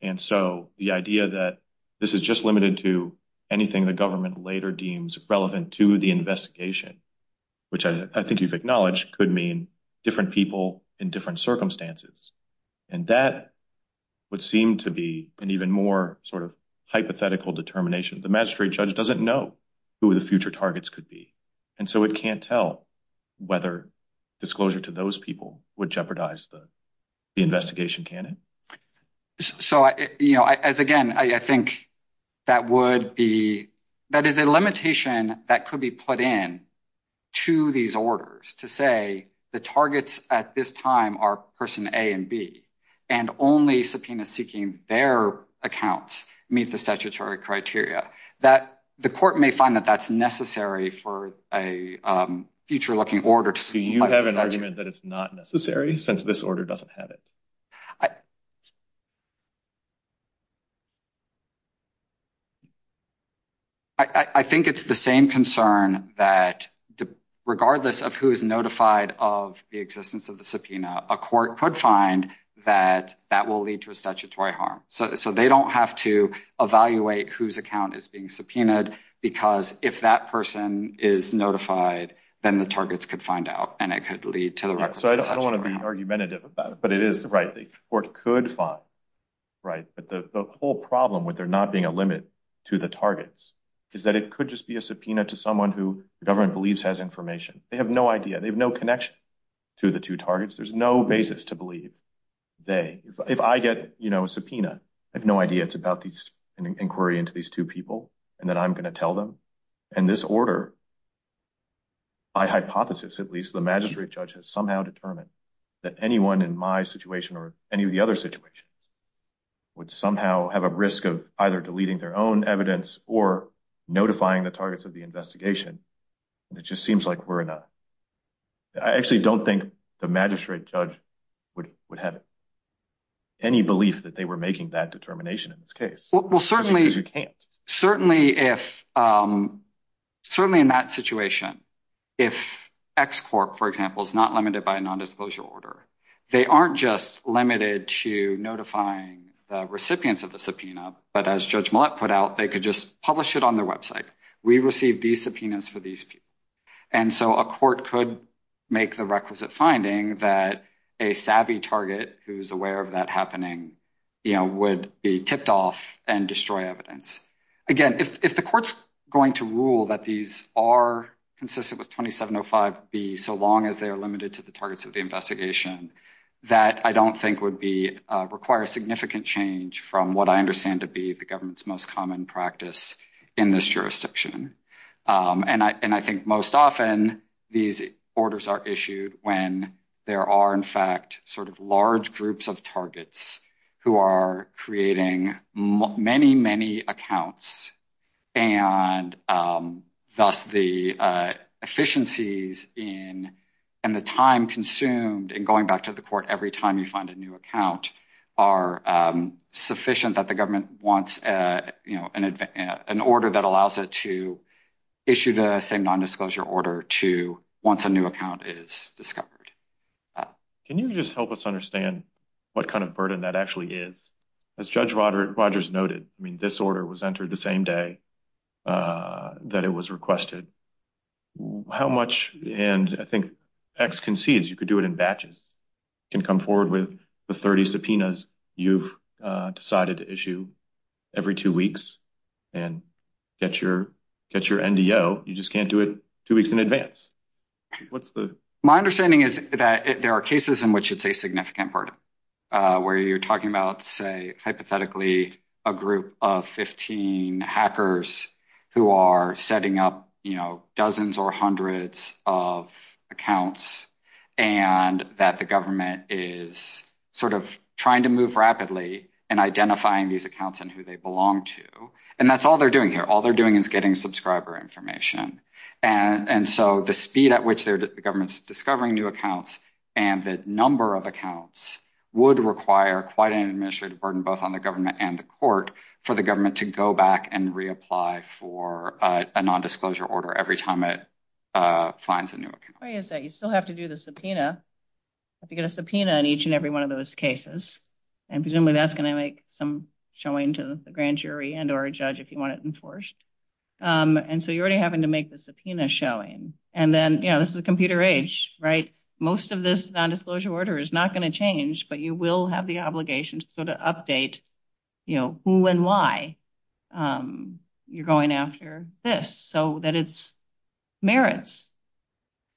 And so the idea that this is just limited to anything the government later deems relevant to the investigation, which I think you've acknowledged could mean different people in different circumstances. And that would seem to be an even more sort of hypothetical determination. The magistrate judge doesn't know who the future targets could be. And so it can't tell whether disclosure to those people would jeopardize the investigation. So, you know, as again, I think that would be that is a limitation that could be put in to these orders to say the targets at this time are person A and B and only subpoena seeking their accounts meet the statutory criteria that the court may find that that's necessary for a future looking order. Do you have an argument that it's not necessary since this order doesn't have it? I think it's the same concern that regardless of who is notified of the existence of the subpoena, a court could find that that will lead to a statutory harm. So they don't have to evaluate whose account is being subpoenaed because if that person is notified, then the targets could find out and it could lead to the right. So I don't want to be argumentative about it, but it is right. The court could find. Right. But the whole problem with there not being a limit to the targets is that it could just be a subpoena to someone who the government believes has information. They have no idea. They have no connection to the two targets. There's no basis to believe they if I get, you know, a subpoena. I have no idea. It's about these inquiry into these two people and that I'm going to tell them. And this order. I hypothesis, at least the magistrate judge has somehow determined that anyone in my situation or any of the other situations would somehow have a risk of either deleting their own evidence or notifying the targets of the investigation. It just seems like we're in a I actually don't think the magistrate judge would would have any belief that they were making that determination in this case. Well, certainly, certainly, if certainly in that situation, if export, for example, is not limited by a nondisclosure order, they aren't just limited to notifying recipients of the subpoena. But as judge put out, they could just publish it on their website. We received these subpoenas for these. And so a court could make the requisite finding that a savvy target who's aware of that happening would be kicked off and destroy evidence. Again, if the court's going to rule that these are consistent with 2705 be so long as they are limited to the targets of the investigation that I don't think would be require significant change from what I understand to be the government's most common practice in this jurisdiction. And I think most often these orders are issued when there are, in fact, sort of large groups of targets who are creating many, many accounts. And thus the efficiencies in and the time consumed in going back to the court every time you find a new account are sufficient that the government wants an order that allows it to issue the same nondisclosure order to once a new account is discovered. Can you just help us understand what kind of burden that actually is? As judge Rogers noted, I mean, this order was entered the same day that it was requested. How much and I think X can see is you could do it in batches can come forward with the 30 subpoenas you've decided to issue every two weeks and get your NDO. You just can't do it two weeks in advance. My understanding is that there are cases in which it's a significant burden where you're talking about, say, hypothetically, a group of 15 hackers who are setting up dozens or hundreds of accounts and that the government is sort of trying to move rapidly and identifying these accounts and who they belong to. And that's all they're doing here. All they're doing is getting subscriber information. And so the speed at which the government's discovering new accounts and the number of accounts would require quite an administrative burden, both on the government and the court for the government to go back and reapply for a nondisclosure order every time it finds a new account. You still have to do the subpoena if you get a subpoena in each and every one of those cases. And presumably that's going to make some showing to the grand jury and or a judge if you want it enforced. And so you're already having to make the subpoena showing. And then, you know, this is a computer age, right? Most of this nondisclosure order is not going to change, but you will have the obligation to go to update, you know, who and why you're going after this. So that it merits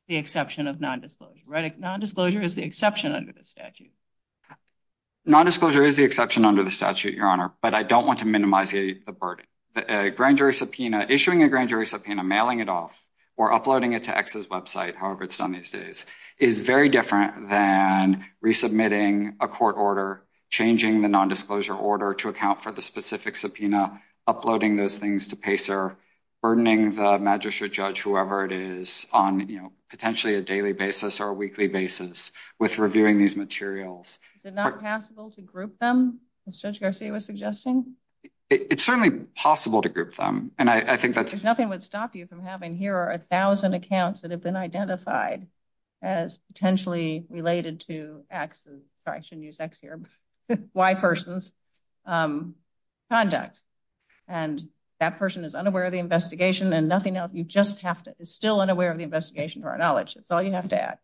the exception of nondisclosure. Nondisclosure is the exception under the statute. Nondisclosure is the exception under the statute, Your Honor, but I don't want to minimize the burden. Is it not possible to group them, as Judge Garcia was suggesting? It's certainly possible to group them. And I think that's... If nothing would stop you from having here a thousand accounts that have been identified as potentially related to X's, sorry I shouldn't use X here, Y person's conduct. And that person is unaware of the investigation and nothing else. You just have to, is still unaware of the investigation to our knowledge. That's all you have to add.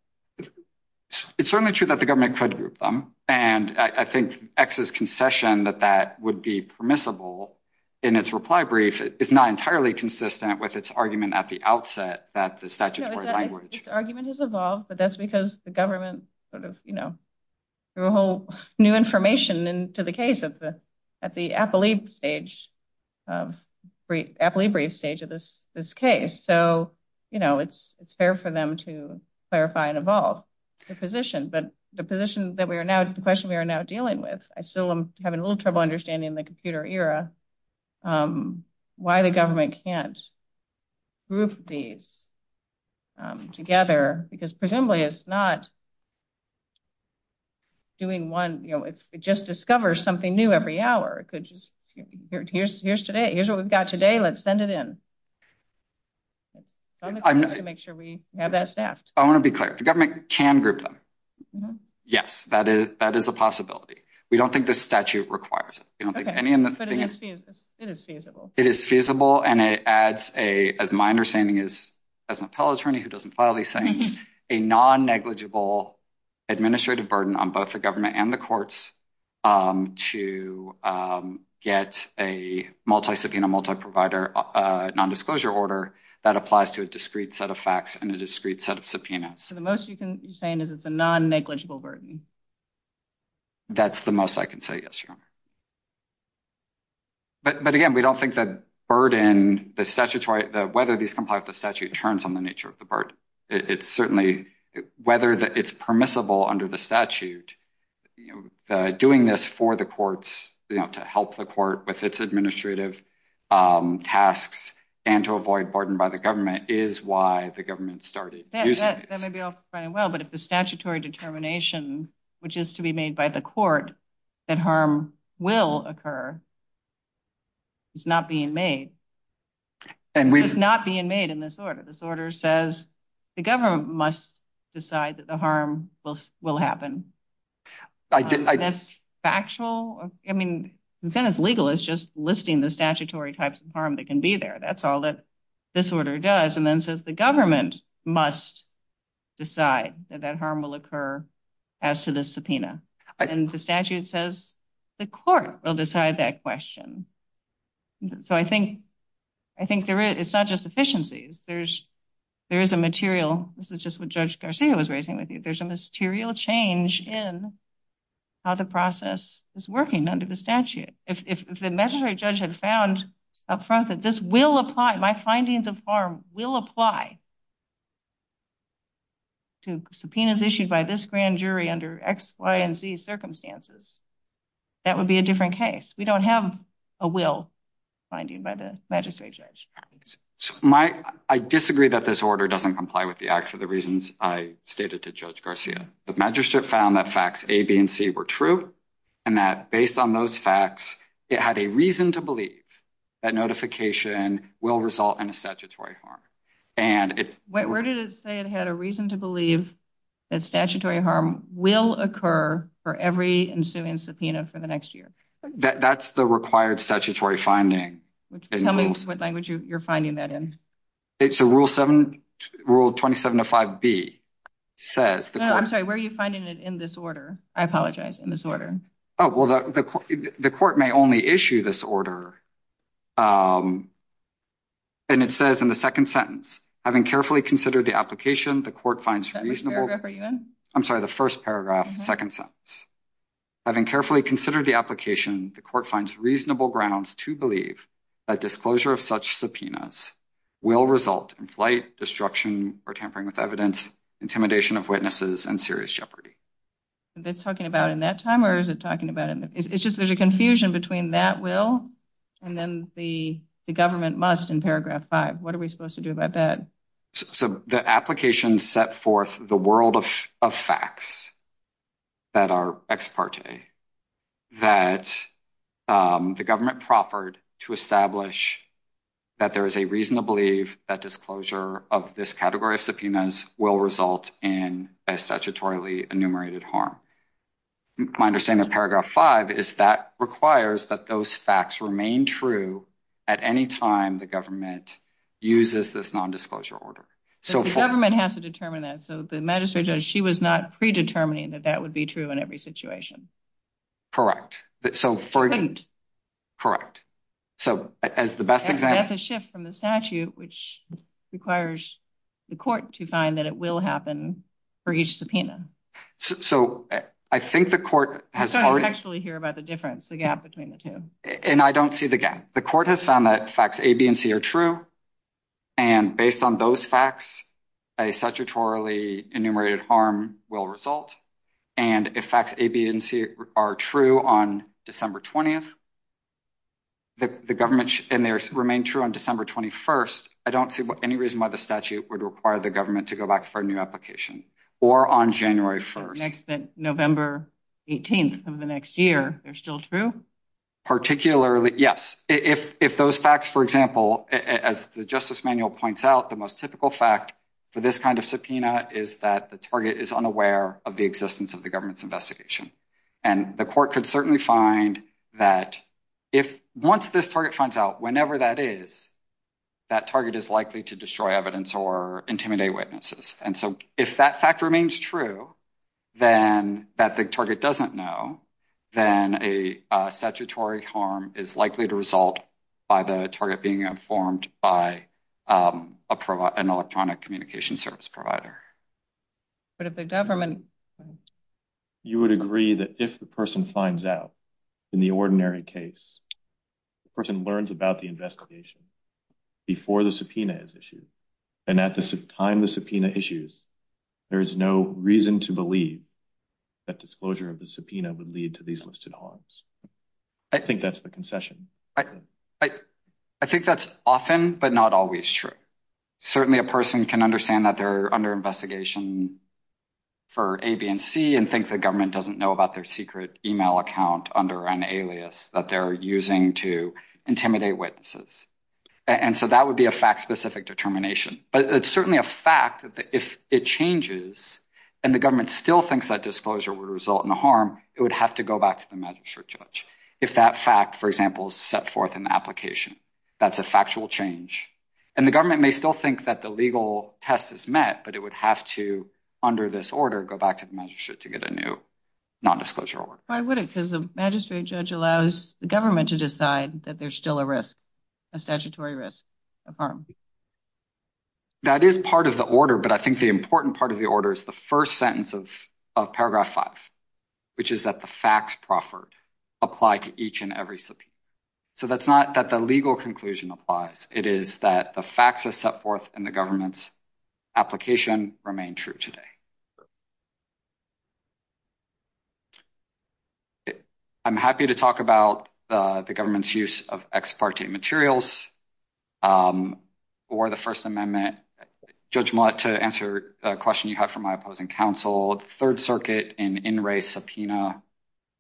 It's certainly true that the government could group them. And I think X's concession that that would be permissible in its reply brief is not entirely consistent with its argument at the outset that the statute is language. The argument has evolved, but that's because the government sort of, you know, threw a whole new information into the case at the appellee brief stage of this case. So, you know, it's fair for them to clarify and evolve their position. But the position that we are now, the question we are now dealing with, I still am having a little trouble understanding the computer era, why the government can't group these together. Because presumably it's not doing one, you know, it just discovers something new every hour. It could just, here's today, here's what we've got today, let's send it in. Make sure we have that staff. I want to be clear. The government can group them. Yes, that is that is a possibility. We don't think the statute requires it is feasible. And it adds a minor standing is as an appellate attorney who doesn't file a non negligible administrative burden on both the government and the courts to get a multi subpoena, multi provider, non disclosure order that applies to a discrete set of facts and a discrete set of subpoenas. So the most you can saying is it's a non negligible burden. That's the most I can say. Yes. But, but again, we don't think that burden the statutory, whether these complex, the statute turns on the nature of the burden. It's certainly whether it's permissible under the statute doing this for the courts to help the court with its administrative tasks and to avoid burden by the government is why the government started. Well, but if the statutory determination, which is to be made by the court that harm will occur. It's not being made and we're not being made in this order. This order says the government must decide that the harm will will happen. Factual. I mean, it's legal. It's just listing the statutory types of harm that can be there. That's all that this order does. And then says the government must decide that harm will occur as to the subpoena and the statute says the court will decide that question. So, I think, I think there is such a sufficiency. There's, there is a material. This is just what judge was raising with you. There's a material change in how the process is working under the statute. If the judge had found up front that this will apply, my findings of harm will apply. Subpoenas issued by this grand jury under X, Y, and Z circumstances. That would be a different case. We don't have a will finding by the magistrate judge. I disagree that this order doesn't comply with the act for the reasons I stated to judge Garcia. The magistrate found that facts A, B, and C were true. And that based on those facts, it had a reason to believe that notification will result in a statutory harm. Where did it say it had a reason to believe that statutory harm will occur for every ensuing subpoena for the next year? That's the required statutory finding. Tell me what language you're finding that in. It's a Rule 27 of 5B. I'm sorry, where are you finding it in this order? I apologize, in this order. The court may only issue this order. And it says in the second sentence, having carefully considered the application, the court finds reasonable. I'm sorry, the first paragraph, second sentence. Having carefully considered the application, the court finds reasonable grounds to believe that disclosure of such subpoenas will result in flight, destruction, or tampering with evidence, intimidation of witnesses, and serious jeopardy. Is it talking about in that time or is it talking about it? It's just there's a confusion between that will and then the government must in paragraph five. What are we supposed to do about that? So the application set forth the world of facts that are ex parte, that the government proffered to establish that there is a reason to believe that disclosure of this category of subpoenas will result in a statutorily enumerated harm. My understanding of paragraph five is that requires that those facts remain true at any time the government uses this nondisclosure order. The government has to determine that, so the magistrate judge, she was not predetermining that that would be true in every situation. Correct. That's a shift from the statute, which requires the court to find that it will happen for each subpoena. So, I think the court has actually hear about the difference, the gap between the two. And I don't see the gap. The court has found that facts A, B, and C are true. And based on those facts, a statutorily enumerated harm will result. And if facts A, B, and C are true on December 20th, the government should remain true on December 21st. I don't see any reason why the statute would require the government to go back for a new application or on January 1st. November 18th of the next year, they're still true? Particularly, yes. If those facts, for example, as the justice manual points out, the most typical fact for this kind of subpoena is that the target is unaware of the existence of the government's investigation. And the court could certainly find that if once this target comes out, whenever that is, that target is likely to destroy evidence or intimidate witnesses. And so, if that fact remains true, then that the target doesn't know, then a statutory harm is likely to result by the target being informed by an electronic communication service provider. But if the government... You would agree that if the person finds out in the ordinary case, the person learns about the investigation before the subpoena is issued, and at the time the subpoena issues, there's no reason to believe that disclosure of the subpoena would lead to these listed harms. I think that's the concession. I think that's often but not always true. Certainly, a person can understand that they're under investigation for A, B, and C, and think the government doesn't know about their secret email account under an alias that they're using to intimidate witnesses. And so, that would be a fact-specific determination. But it's certainly a fact that if it changes and the government still thinks that disclosure would result in a harm, it would have to go back to the magistrate judge if that fact, for example, is set forth in the application. That's a factual change. And the government may still think that the legal test is met, but it would have to, under this order, go back to the magistrate to get a new non-disclosure order. Why would it? Because the magistrate judge allows the government to decide that there's still a risk, a statutory risk of harm. That is part of the order, but I think the important part of the order is the first sentence of Paragraph 5, which is that the facts proffered apply to each and every subpoena. So, that's not that the legal conclusion applies. It is that the facts are set forth and the government's application remain true today. I'm happy to talk about the government's use of ex parte materials. For the First Amendment, Judge Millett, to answer a question you have for my opposing counsel, the Third Circuit, in in re subpoena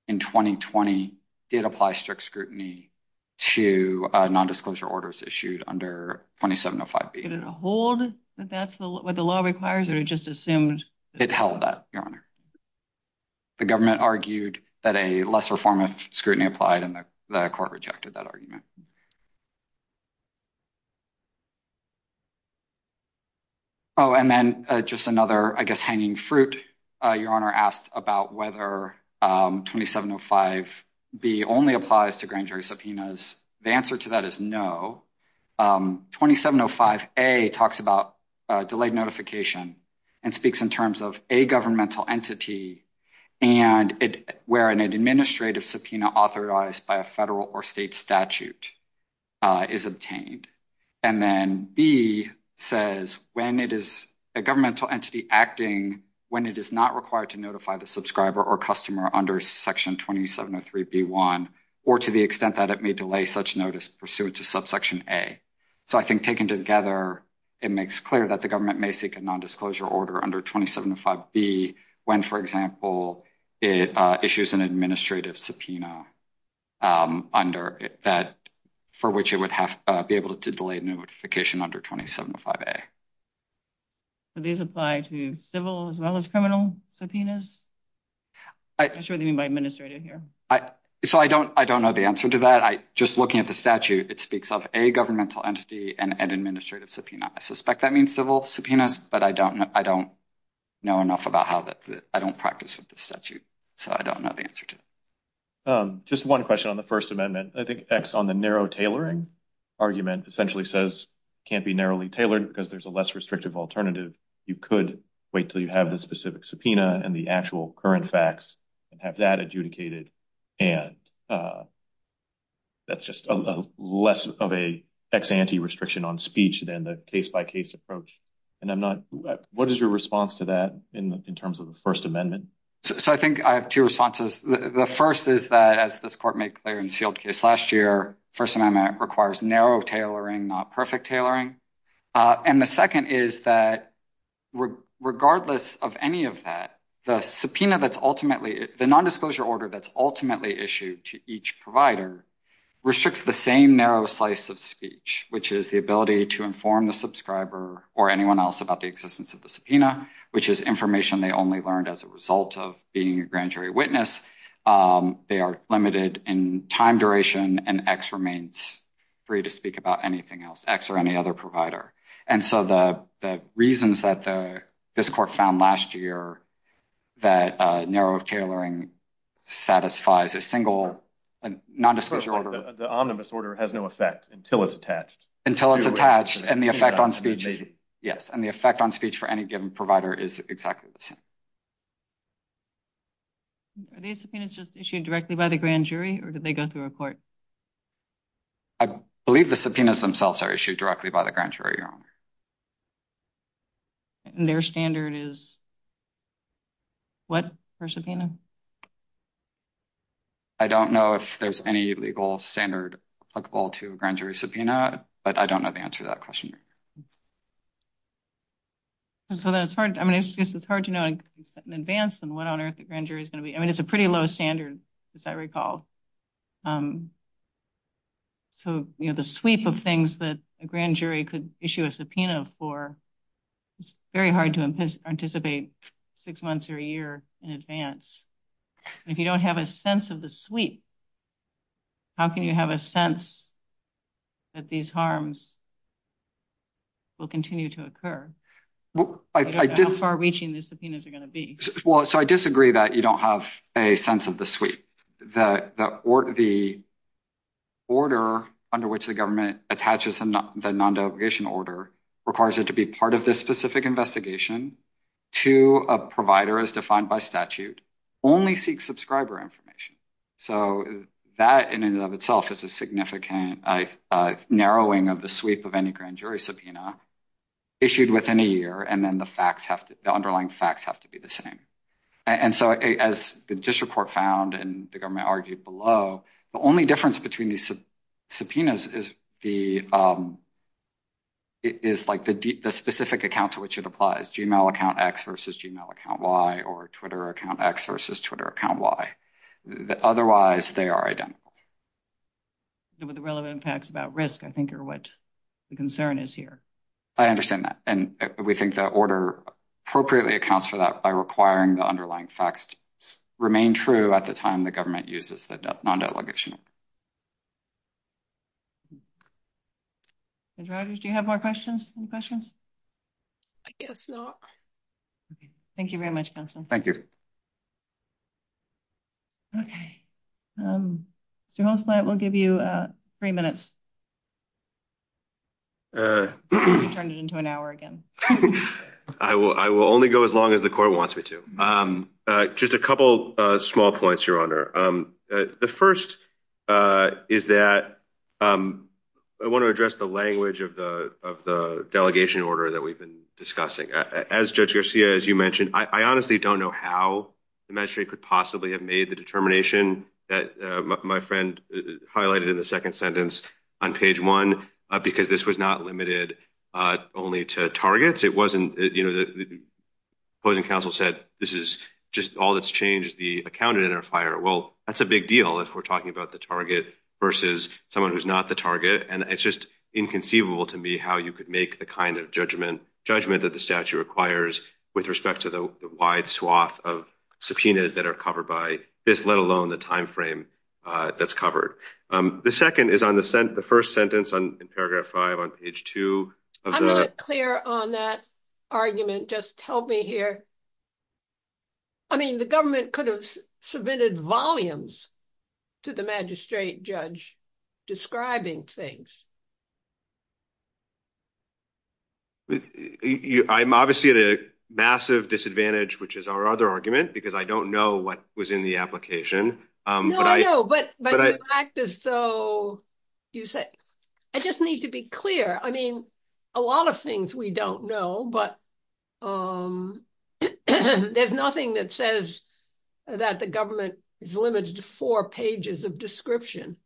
in 2020, did apply strict scrutiny to non-disclosure orders issued under 2705B. Did it hold that that's what the law requires, or it just assumed? It held that, Your Honor. The government argued that a lesser form of scrutiny applied, and the court rejected that argument. Oh, and then just another, I guess, hanging fruit. Your Honor asked about whether 2705B only applies to grand jury subpoenas. The answer to that is no. 2705A talks about delayed notification and speaks in terms of a governmental entity and where an administrative subpoena authorized by a federal or state statute is obtained. And then B says when it is a governmental entity acting, when it is not required to notify the subscriber or customer under section 2703B1, or to the extent that it may delay such notice pursuant to subsection A. So, I think taken together, it makes clear that the government may seek a non-disclosure order under 2705B when, for example, it issues an administrative subpoena under that for which it would have to be able to delay notification under 2705A. So, these apply to civil as well as criminal subpoenas? I'm sure they mean by administrative here. So, I don't know the answer to that. Just looking at the statute, it speaks of a governmental entity and an administrative subpoena. I suspect that means civil subpoenas, but I don't know enough about how that, I don't practice with the statute. So, I don't know the answer to that. Just one question on the First Amendment. I think X on the narrow tailoring argument essentially says it can't be narrowly tailored because there's a less restrictive alternative. You could wait until you have the specific subpoena and the actual current facts and have that adjudicated. And that's just less of an ex ante restriction on speech than the case-by-case approach. And I'm not, what is your response to that in terms of the First Amendment? So, I think I have two responses. The first is that, as this court made clear in the Shield case last year, First Amendment requires narrow tailoring, not perfect tailoring. And the second is that, regardless of any of that, the subpoena that's ultimately, the nondisclosure order that's ultimately issued to each provider restricts the same narrow slice of speech, which is the ability to inform the subscriber or anyone else about the existence of the subpoena, which is information they only learned as a result of being a grand jury witness. They are limited in time duration, and X remains free to speak about anything else, X or any other provider. And so the reasons that this court found last year that narrow tailoring satisfies a single nondisclosure order. The omnibus order has no effect until it's attached. Until it's attached, and the effect on speech, yes, and the effect on speech for any given provider is exactly the same. Are these subpoenas just issued directly by the grand jury, or do they go through a court? I believe the subpoenas themselves are issued directly by the grand jury, Your Honor. And their standard is what for subpoena? I don't know if there's any legal standard applicable to a grand jury subpoena, but I don't know the answer to that question. So that's hard. I mean, it's just, it's hard to know in advance on what on earth the grand jury is going to be. I mean, it's a pretty low standard, as I recall. So, you know, the sweep of things that a grand jury could issue a subpoena for is very hard to anticipate six months or a year in advance. If you don't have a sense of the sweep, how can you have a sense that these harms will continue to occur? How far reaching the subpoenas are going to be? Well, so I disagree that you don't have a sense of the sweep. The order under which the government attaches the non-delegation order requires it to be part of this specific investigation to a provider as defined by statute, only seek subscriber information. So that in and of itself is a significant narrowing of the sweep of any grand jury subpoena issued within a year. And then the underlying facts have to be the same. And so as the district court found and the government argued below, the only difference between these subpoenas is the specific accounts which it applies, Gmail account X versus Gmail account Y or Twitter account X versus Twitter account Y. Otherwise, they are identical. The relevant facts about risk, I think, are what the concern is here. I understand that. And we think that order appropriately accounts for that by requiring the underlying facts remain true at the time the government uses the non-delegation. Roger, do you have more questions? I guess not. Thank you very much, Benson. Thank you. Okay. Mr. Holzblatt, we'll give you three minutes. Turn it into an hour again. I will only go as long as the court wants me to. Just a couple of small points, Your Honor. The first is that I want to address the language of the delegation order that we've been discussing. As Judge Garcia, as you mentioned, I honestly don't know how the magistrate could possibly have made the determination that my friend highlighted in the second sentence. On page one, because this was not limited only to targets. It wasn't, you know, the opposing counsel said this is just all that's changed, the account identifier. Well, that's a big deal if we're talking about the target versus someone who's not the target. And it's just inconceivable to me how you could make the kind of judgment that the statute requires with respect to the wide swath of subpoenas that are covered by this, let alone the timeframe that's covered. The second is on the first sentence in paragraph five on page two. I'm not clear on that argument. Just tell me here. I mean, the government could have submitted volumes to the magistrate judge describing things. I'm obviously at a massive disadvantage, which is our other argument, because I don't know what was in the application. No, I know, but the fact is so, I just need to be clear. I mean, a lot of things we don't know, but there's nothing that says that the government is limited to four pages of description.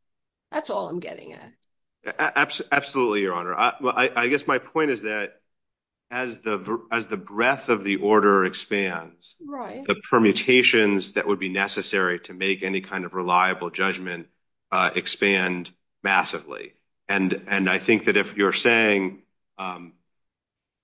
That's all I'm getting at. Absolutely, Your Honor. Well, I guess my point is that as the breadth of the order expands, the permutations that would be necessary to make any kind of reliable judgment expand massively. And I think that if you're saying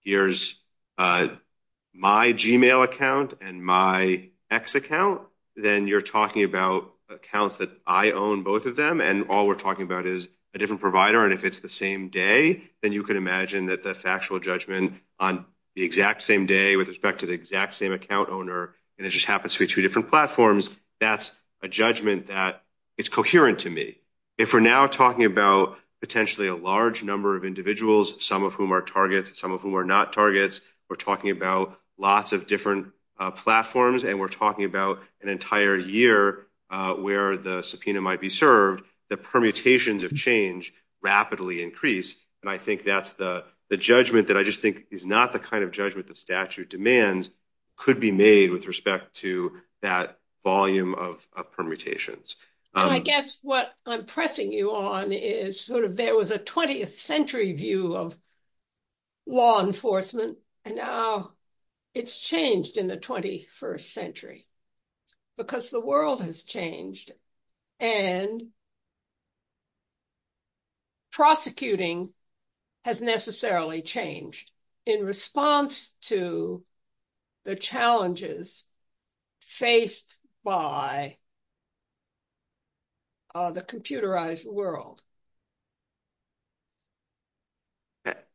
here's my Gmail account and my X account, then you're talking about accounts that I own, both of them, and all we're talking about is a different provider. And if it's the same day, then you can imagine that the factual judgment on the exact same day with respect to the exact same account owner, and it just happens to be two different platforms, that's a judgment that is coherent to me. If we're now talking about potentially a large number of individuals, some of whom are targets, some of whom are not targets, we're talking about lots of different platforms, and we're talking about an entire year where the subpoena might be served, the permutations of change rapidly increase. And I think that's the judgment that I just think is not the kind of judgment the statute demands could be made with respect to that volume of permutations. I guess what I'm pressing you on is sort of there was a 20th century view of law enforcement, and now it's changed in the 21st century. Because the world has changed, and prosecuting has necessarily changed in response to the challenges faced by the computerized world.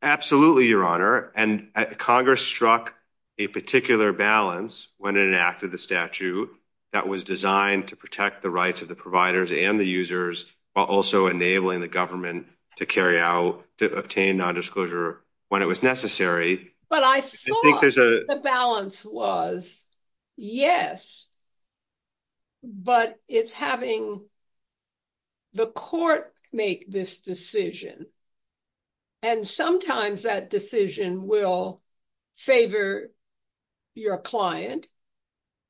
Absolutely, Your Honor. And Congress struck a particular balance when it enacted the statute that was designed to protect the rights of the providers and the users, while also enabling the government to carry out, to obtain nondisclosure when it was necessary. But I thought the balance was, yes, but it's having the court make this decision. And sometimes that decision will favor your client,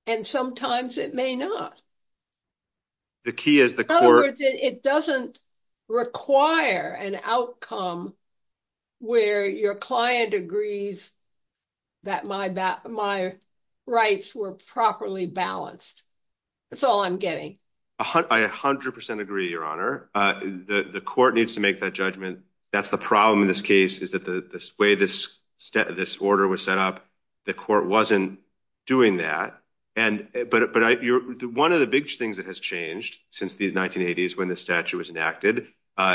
and sometimes it may not. The key is the court... ...that my rights were properly balanced. That's all I'm getting. I 100% agree, Your Honor. The court needs to make that judgment. That's the problem in this case, is that the way this order was set up, the court wasn't doing that. But one of the big things that has changed since the 1980s when the statute was enacted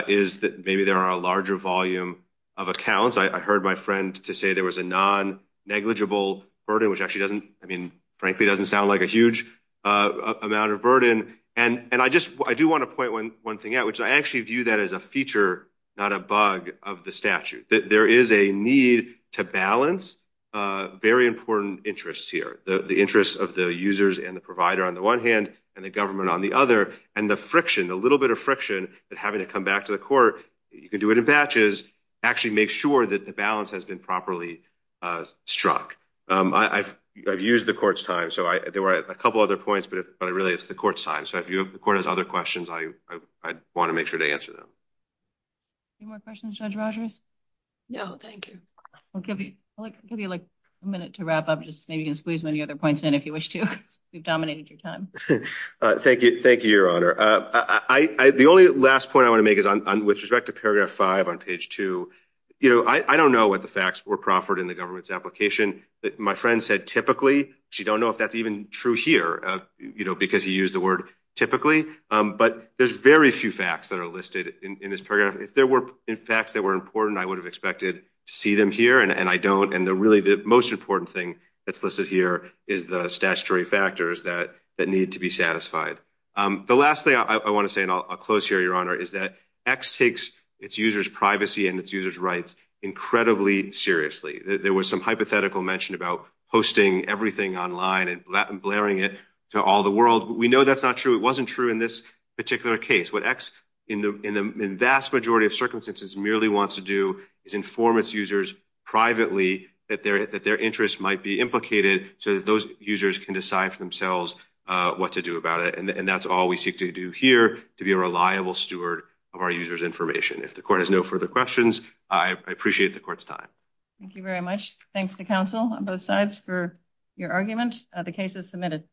is that maybe there are a larger volume of accounts. I heard my friend say there was a non-negligible burden, which frankly doesn't sound like a huge amount of burden. And I do want to point one thing out, which I actually view that as a feature, not a bug, of the statute. There is a need to balance very important interests here, the interests of the users and the provider on the one hand, and the government on the other. And the friction, the little bit of friction that having to come back to the court, you can do it in batches, actually makes sure that the balance has been properly struck. I've used the court's time, so there were a couple other points, but really it's the court's time. So if the court has other questions, I want to make sure to answer them. Any more questions, Judge Rogers? No, thank you. I'll give you a minute to wrap up, just maybe to squeeze many other points in if you wish to. You've dominated your time. Thank you, Your Honor. The only last point I want to make is with respect to paragraph 5 on page 2, I don't know what the facts were proffered in the government's application. My friend said typically, so you don't know if that's even true here, because he used the word typically. But there's very few facts that are listed in this paragraph. If there were facts that were important, I would have expected to see them here, and I don't. And really the most important thing that's listed here is the statutory factors that need to be satisfied. The last thing I want to say, and I'll close here, Your Honor, is that X takes its users' privacy and its users' rights incredibly seriously. There was some hypothetical mention about hosting everything online and blaring it to all the world. We know that's not true. It wasn't true in this particular case. What X, in the vast majority of circumstances, merely wants to do is inform its users privately that their interests might be implicated so that those users can decide for themselves what to do about it. And that's all we seek to do here, to be a reliable steward of our users' information. If the court has no further questions, I appreciate the court's time. Thank you very much. Thanks to counsel on both sides for your argument. The case is submitted.